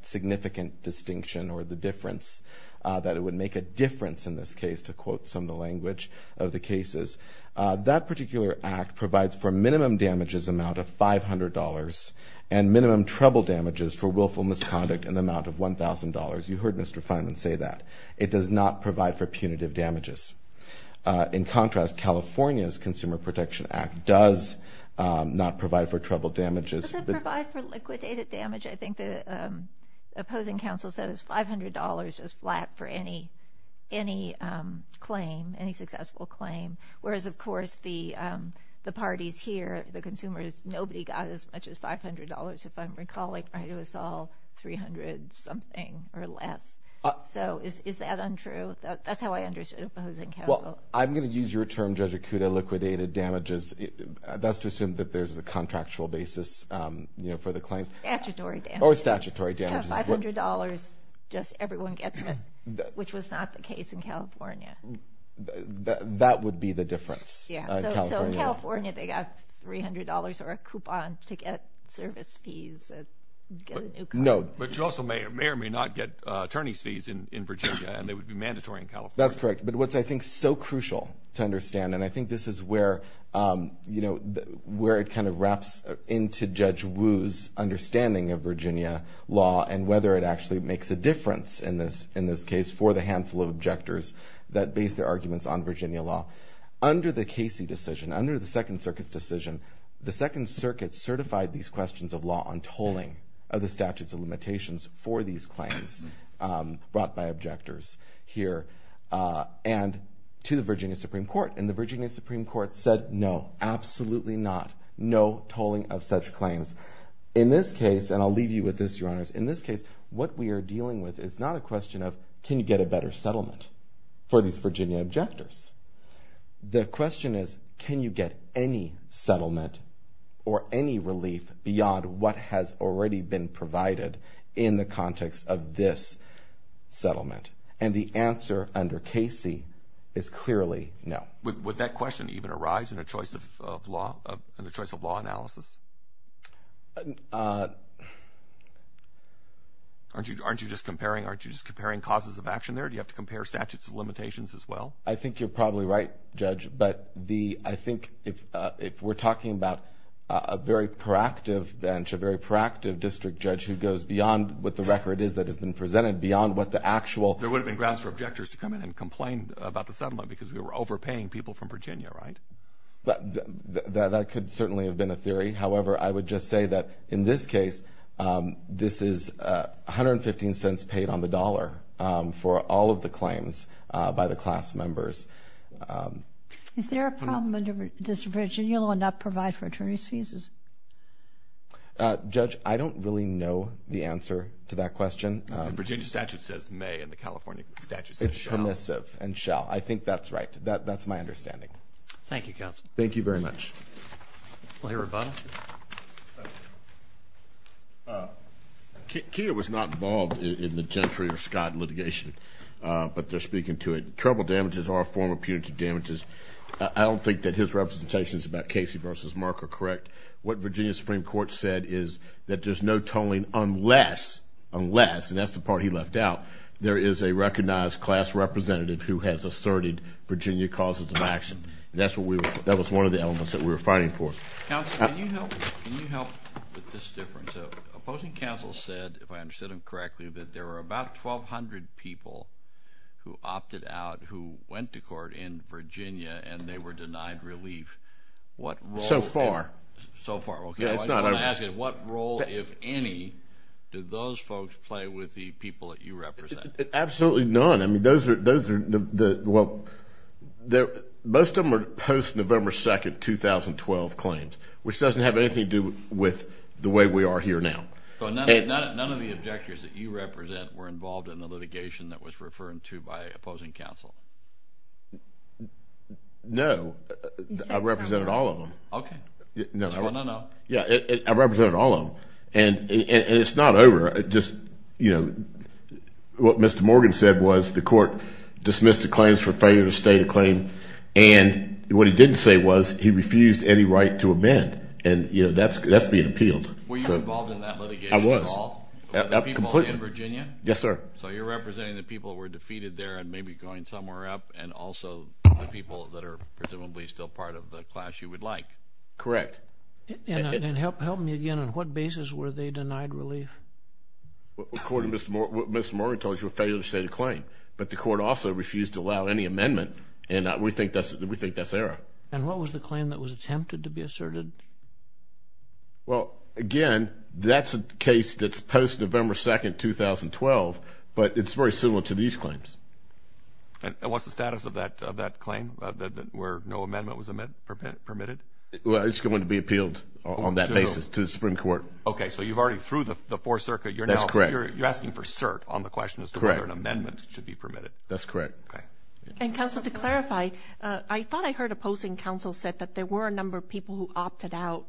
significant distinction or the difference, that it would make a difference in this case, to quote some of the language of the cases. That particular act provides for minimum damages amount of $500 and minimum trouble damages for willful misconduct in the amount of $1,000. You heard Mr. Fineman say that. It does not provide for punitive damages. In contrast, California's Consumer Protection Act does not provide for trouble damages. It does provide for liquidated damage. I think the opposing counsel says $500 is flat for any claim, any successful claim, whereas, of course, the parties here, the consumers, nobody got as much as $500. If I'm recalling right, it was all $300 something or less. So is that untrue? That's how I understood the opposing counsel. Well, I'm going to use your term, Judge Akuta, liquidated damages. Let's assume that there's a contractual basis for the claim. Statutory damages. Or statutory damages. $500, just everyone gets it, which was not the case in California. That would be the difference. So in California, they got $300 or a coupon to get service fees to get a new car. But you also may or may not get attorney's fees in Virginia, and they would be mandatory in California. That's correct. But what's, I think, so crucial to understand, and I think this is where it kind of wraps into Judge Wu's understanding of Virginia law and whether it actually makes a difference in this case for the handful of objectors that base their arguments on Virginia law. Under the Casey decision, under the Second Circuit's decision, the Second Circuit certified these questions of law on tolling of the statutes of limitations for these claims brought by objectors here and to the Virginia Supreme Court. And the Virginia Supreme Court said no, absolutely not. No tolling of such claims. In this case, and I'll leave you with this, Your Honors, in this case, what we are dealing with is not a question of can you get a better settlement for these Virginia objectors. The question is can you get any settlement or any relief beyond what has already been provided in the context of this settlement? And the answer under Casey is clearly no. Would that question even arise in a choice of law analysis? Aren't you just comparing causes of action there? Do you have to compare statutes of limitations as well? I think you're probably right, Judge. But I think if we're talking about a very proactive bench, a very proactive district judge who goes beyond what the record is that has been presented, beyond what the actual There would have been grounds for objectors to come in and complain about the settlement because we were overpaying people from Virginia, right? That could certainly have been a theory. However, I would just say that in this case, this is 115 cents paid on the dollar for all of the claims by the class members. Is there a problem under this Virginia law not provide for attorney's fees? Judge, I don't really know the answer to that question. The Virginia statute says may and the California statute says shall. It's permissive and shall. I think that's right. That's my understanding. Thank you, Counsel. Thank you very much. Any rebuttals? Thank you, Counsel. Thank you. Keir was not involved in the Gentry or Scott litigation, but they're speaking to it. Trouble damages are a form of punitive damages. I don't think that his representations about Casey versus Mark are correct. What Virginia Supreme Court said is that there's no tolling unless, unless, and that's the part he left out, there is a recognized class representative who has asserted Virginia causes of action. That was one of the elements that we were fighting for. Counsel, can you help with this difference? Opposing counsel said, if I understood him correctly, that there were about 1,200 people who opted out who went to court in Virginia and they were denied relief. So far. So far. What role, if any, did those folks play with the people that you represent? Absolutely none. None. I mean, those are, well, most of them are post-November 2nd, 2012 claims, which doesn't have anything to do with the way we are here now. So none of the objectors that you represent were involved in the litigation that was referred to by opposing counsel? No. I represented all of them. Okay. No, no, no. Yeah, I represented all of them. And it's not over. What Mr. Morgan said was the court dismissed the claims for failure to state a claim. And what he didn't say was he refused any right to amend. And, you know, that's being appealed. Were you involved in that litigation at all? I was. The people in Virginia? Yes, sir. So you're representing the people who were defeated there and maybe going somewhere else, and also the people that are presumably still part of the class you would like. Correct. And help me again. On what basis were they denied relief? According to what Mr. Morgan told you, a failure to state a claim. But the court also refused to allow any amendment, and we think that's error. And what was the claim that was attempted to be asserted? Well, again, that's a case that's post-November 2nd, 2012, but it's very similar to these claims. And what's the status of that claim where no amendment was permitted? Well, it's going to be appealed on that basis to the Supreme Court. Okay, so you've already through the Fourth Circuit. That's correct. You're asking for cert on the question as to whether an amendment should be permitted. That's correct. Okay. And, counsel, to clarify, I thought I heard opposing counsel said that there were a number of people who opted out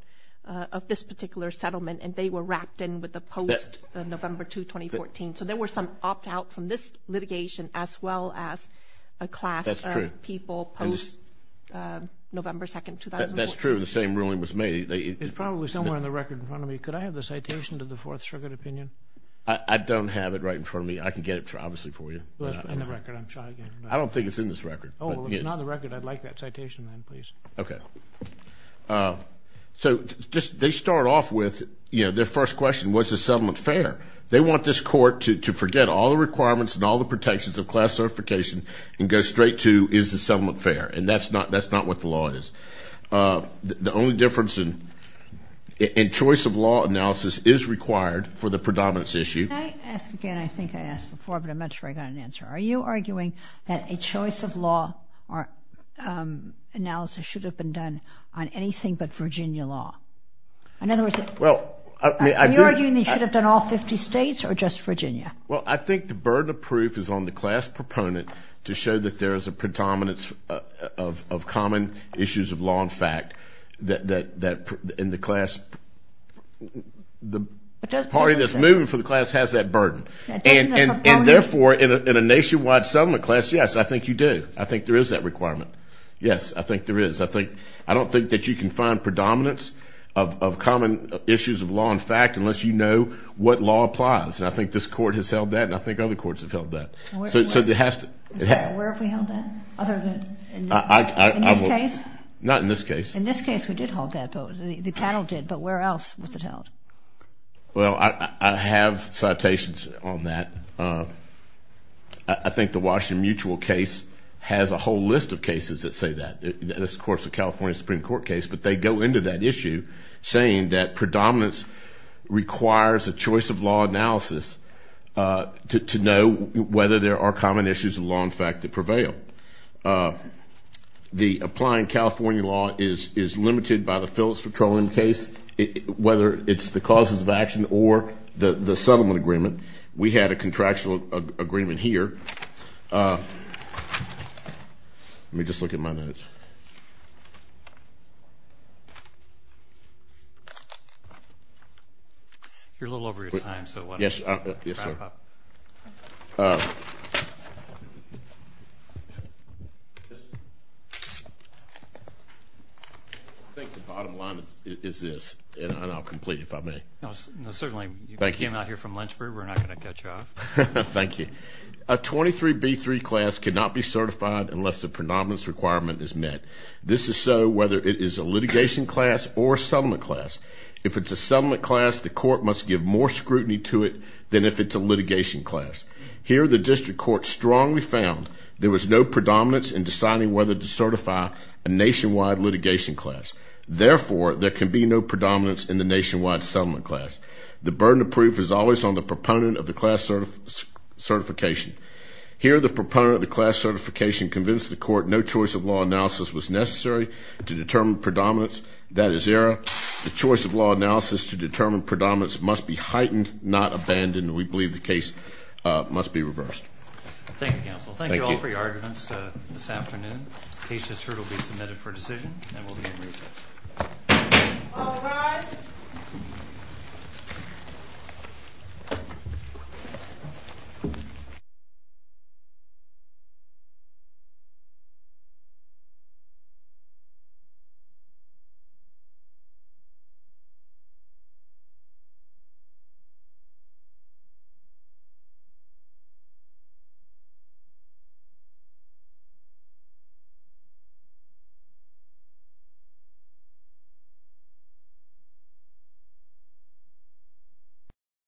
of this particular settlement, and they were wrapped in with the post-November 2nd, 2014. So there were some opt-out from this litigation as well as a class of people post-November 2nd, 2014. That's true. The same ruling was made. It's probably somewhere in the record in front of me. Could I have the citation to the Fourth Circuit opinion? I don't have it right in front of me. I can get it obviously for you. In the record. I'm trying to get it. I don't think it's in this record. Oh, it's not in the record. I'd like that citation then, please. Okay. So they start off with their first question, was the settlement fair? They want this court to forget all the requirements and all the protections of class certification and go straight to is the settlement fair? And that's not what the law is. The only difference in choice of law analysis is required for the predominance issue. Can I ask again? I think I asked before, but I'm not sure I got an answer. Are you arguing that a choice of law analysis should have been done on anything but Virginia law? In other words, are you arguing it should have been all 50 states or just Virginia? Well, I think the burden of proof is on the class proponent to show that there is a predominance of common issues of law and fact. And the class, the party that's moving for the class has that burden. And therefore, in a nationwide settlement class, yes, I think you do. I think there is that requirement. Yes, I think there is. I don't think that you can find predominance of common issues of law and fact unless you know what law applies. And I think this court has held that, and I think other courts have held that. Where have we held that other than in this case? Not in this case. In this case, we did hold that, though. The panel did. But where else was it held? Well, I have citations on that. I think the Washington Mutual case has a whole list of cases that say that. This, of course, is a California Supreme Court case. But they go into that issue saying that predominance requires a choice of law analysis to know whether there are common issues of law and fact that prevail. The applying California law is limited by the Phillips-Patron case, whether it's the causes of action or the settlement agreement. We had a contractual agreement here. Let me just look at my notes. You're a little over your time, so why don't you wrap up? Yes, sir. I think the bottom line is this, and I'll complete it if I may. Certainly. Thank you. You came out here from Lynchburg. We're not going to cut you off. Thank you. A 23B3 class cannot be certified unless the predominance requirement is met. This is so whether it is a litigation class or a settlement class. If it's a settlement class, the court must give more scrutiny to it than if it's a litigation class. Here, the district court strongly found there was no predominance in deciding whether to certify a nationwide litigation class. Therefore, there can be no predominance in the nationwide settlement class. The burden of proof is always on the proponent of the class certification. Here, the proponent of the class certification convinced the court no choice of law analysis was necessary to determine predominance. That is error. The choice of law analysis to determine predominance must be heightened, not abandoned. We believe the case must be reversed. Thank you, counsel. Thank you all for your arguments this afternoon. The case has heard will be submitted for decision, and we'll be in recess. All rise. Thank you.